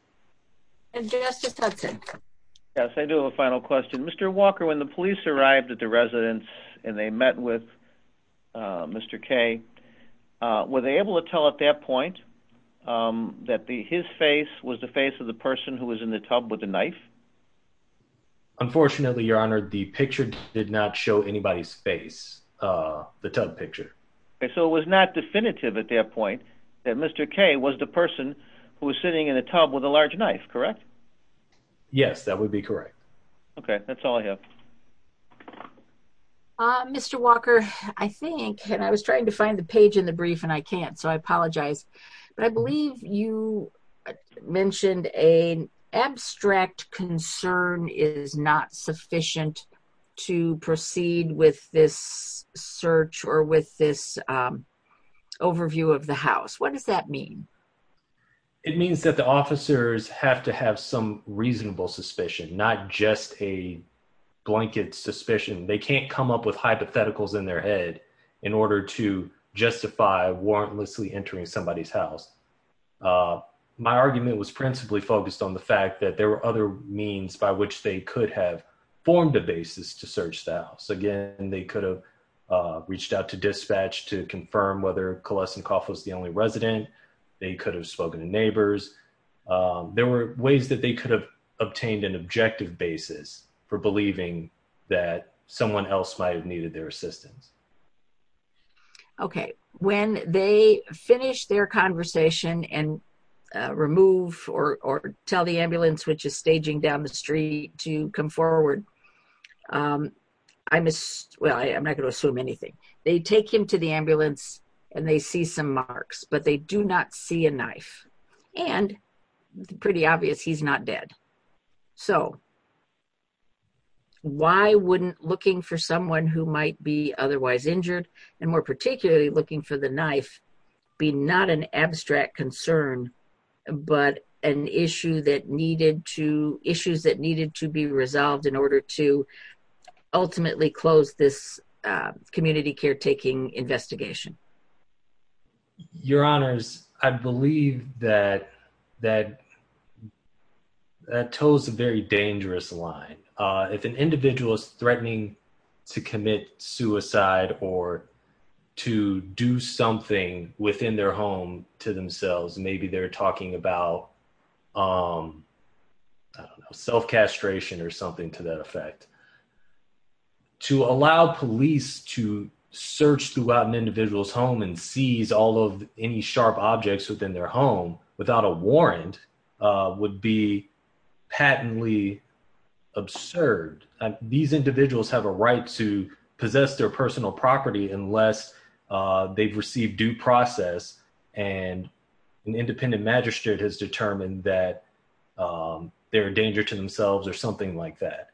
And Justice Hudson. Yes, I do have a final question. Mr. Walker, when the police arrived at the residence and they met with Mr. K, were they able to tell at that point that his face was the face of the person who was in the tub with the knife? Unfortunately, Your Honor, the picture did not show anybody's face, uh, the tub picture. So it was not definitive at that point that Mr. K was the person who was sitting in a tub with a large knife, correct? Yes, that would be correct. Okay, that's all I have. Uh, Mr. Walker, I think, and I was trying to find the page in the brief and I can't, so I apologize. But I believe you mentioned an abstract concern is not sufficient to proceed with this search or with this, um, overview of the house. What does that mean? It means that the officers have to have some reasonable suspicion, not just a blanket suspicion. They can't come up with hypotheticals in their head in order to justify warrantlessly entering somebody's house. Uh, my argument was principally focused on the fact that there were other means by which they could have formed a basis to search the house. Again, they could have, uh, reached out to dispatch to confirm whether Coleson Coff was the only resident. They could have spoken to neighbors. Um, there were ways that they could have obtained an objective basis for believing that someone else might have needed their assistance. Okay, when they finish their conversation and, uh, remove or tell the ambulance, which is staging down the street to come forward, um, I'm, well, I'm not going to assume anything. They take him to the ambulance and they see some marks, but they do not see a knife. And, pretty obvious, he's not dead. So why wouldn't looking for someone who might be otherwise injured, and more particularly looking for the knife, be not an abstract concern, but an issue that needed to, issues that needed to be resolved in order to ultimately close this, uh, community caretaking investigation? Your honors, I believe that, that, that toes a very dangerous line. Uh, if an individual is threatening to commit suicide or to do something within their home to themselves, maybe they're talking about, um, I don't know, self castration or something to that effect. To allow police to search throughout an individual's home and seize all of any sharp objects within their home without a warrant, uh, would be patently absurd. These individuals have a right to possess their personal property unless, uh, they've received due process and an independent magistrate has determined that, um, they're a danger to themselves or something like that.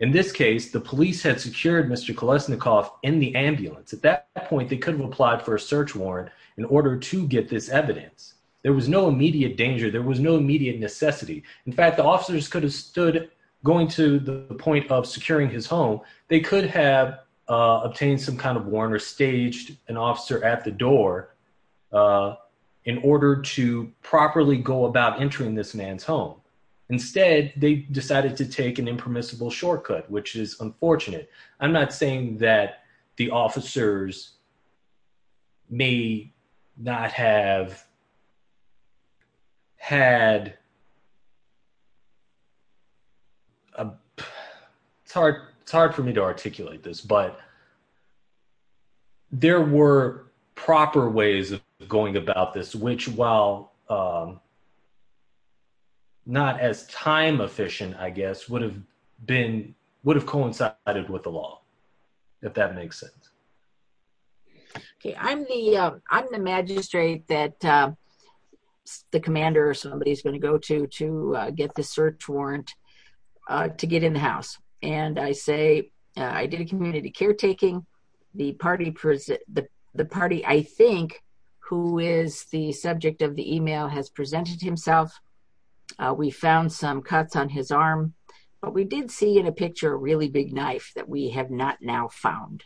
In this case, the police had secured Mr. Kolesnikoff in the ambulance. At that point, they could have applied for a search warrant in order to get this evidence. There was no immediate danger. There was no immediate necessity. In fact, the officers could have stood going to the point of securing his home. They could have, uh, obtained some kind of warrant or staged an officer at the door, uh, in order to properly go about entering this man's home. Instead, they decided to take an impermissible shortcut, which is unfortunate. I'm not saying that the officers may not have had, uh, it's hard, it's hard for me to articulate this, but there were proper ways of going about this, which while, um, not as time efficient, I guess, would have been, would have coincided with the law, if that makes sense. Okay. I'm the, uh, I'm the magistrate that, uh, the commander or somebody's going to go to, to, uh, get the search warrant, uh, to get in the house. And I say, uh, I did a community caretaking. The party, the party, I think, who is the subject of the email has presented himself. Uh, we found some cuts on his arm, but we did see in a picture, a really big knife that we have not now found.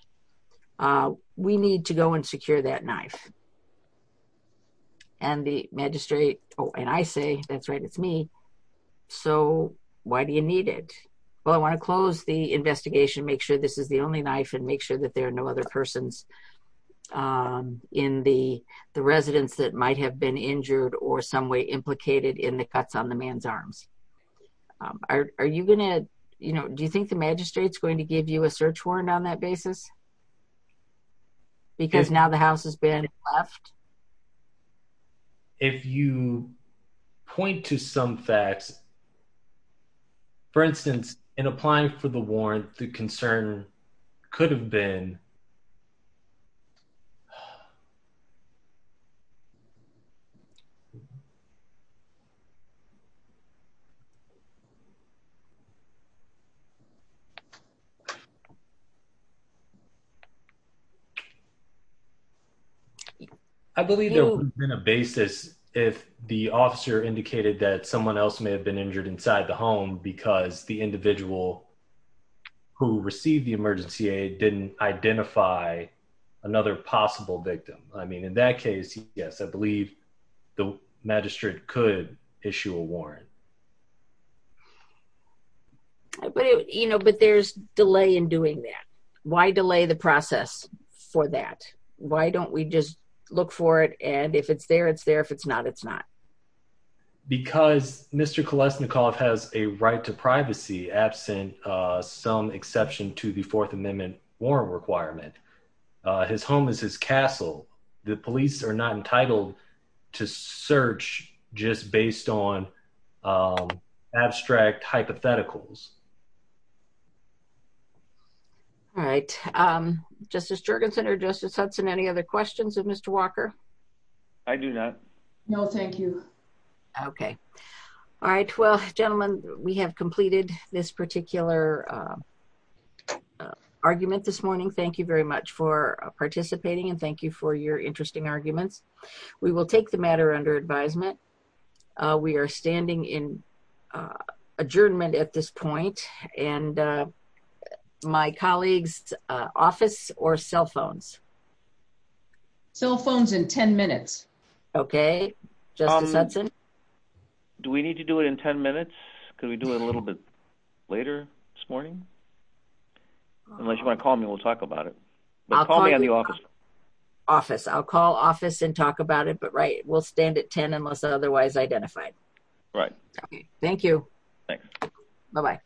Uh, we need to go and secure that knife. And the magistrate, oh, and I say, that's right, it's me. So why do you need it? Well, I want to close the investigation, make sure this is the only knife and make sure that there are no other persons, um, in the, the residents that might have been injured or some way implicated in the cuts on the man's arms. Um, are, are you going to, you know, do you think the magistrate's going to give you a search warrant on that basis? Because now the house has been left. If you point to some facts, for instance, in applying for the warrant, the concern could have been, um, I believe there would have been a basis if the officer indicated that someone else may have been injured inside the home because the individual who received the emergency aid didn't identify another possible victim. I mean, in that case, yes, I believe the magistrate could issue a warrant. But, you know, but there's delay in doing that. Why delay the process for that? Why don't we just look for it? And if it's there, it's there. If it's not, it's not. Because Mr. Kolesnikov has a right to privacy absent, uh, some exception to the fourth amendment warrant requirement. Uh, his home is his castle. The police are not entitled to search just based on, um, abstract hypotheticals. All right. Um, Justice Jurgensen or Justice Hudson, any other questions of Mr. Walker? I do not. No, thank you. Okay. All right. Well, gentlemen, we have completed this particular, uh, uh, argument this morning. Thank you very much for participating and thank you for your interesting arguments. We will take the matter under advisement. Uh, we are standing in, uh, adjournment at this point and, uh, my colleagues, uh, office or cell phones, cell phones in 10 minutes. Okay. Justice Hudson. Do we need to do it in 10 minutes? Could we do it a little bit later this morning? Unless you want to call me, we'll talk about it. Office. I'll call office and talk about it, but right. We'll stand at 10 unless otherwise identified. Right. Okay. Thank you. Thanks. Bye-bye.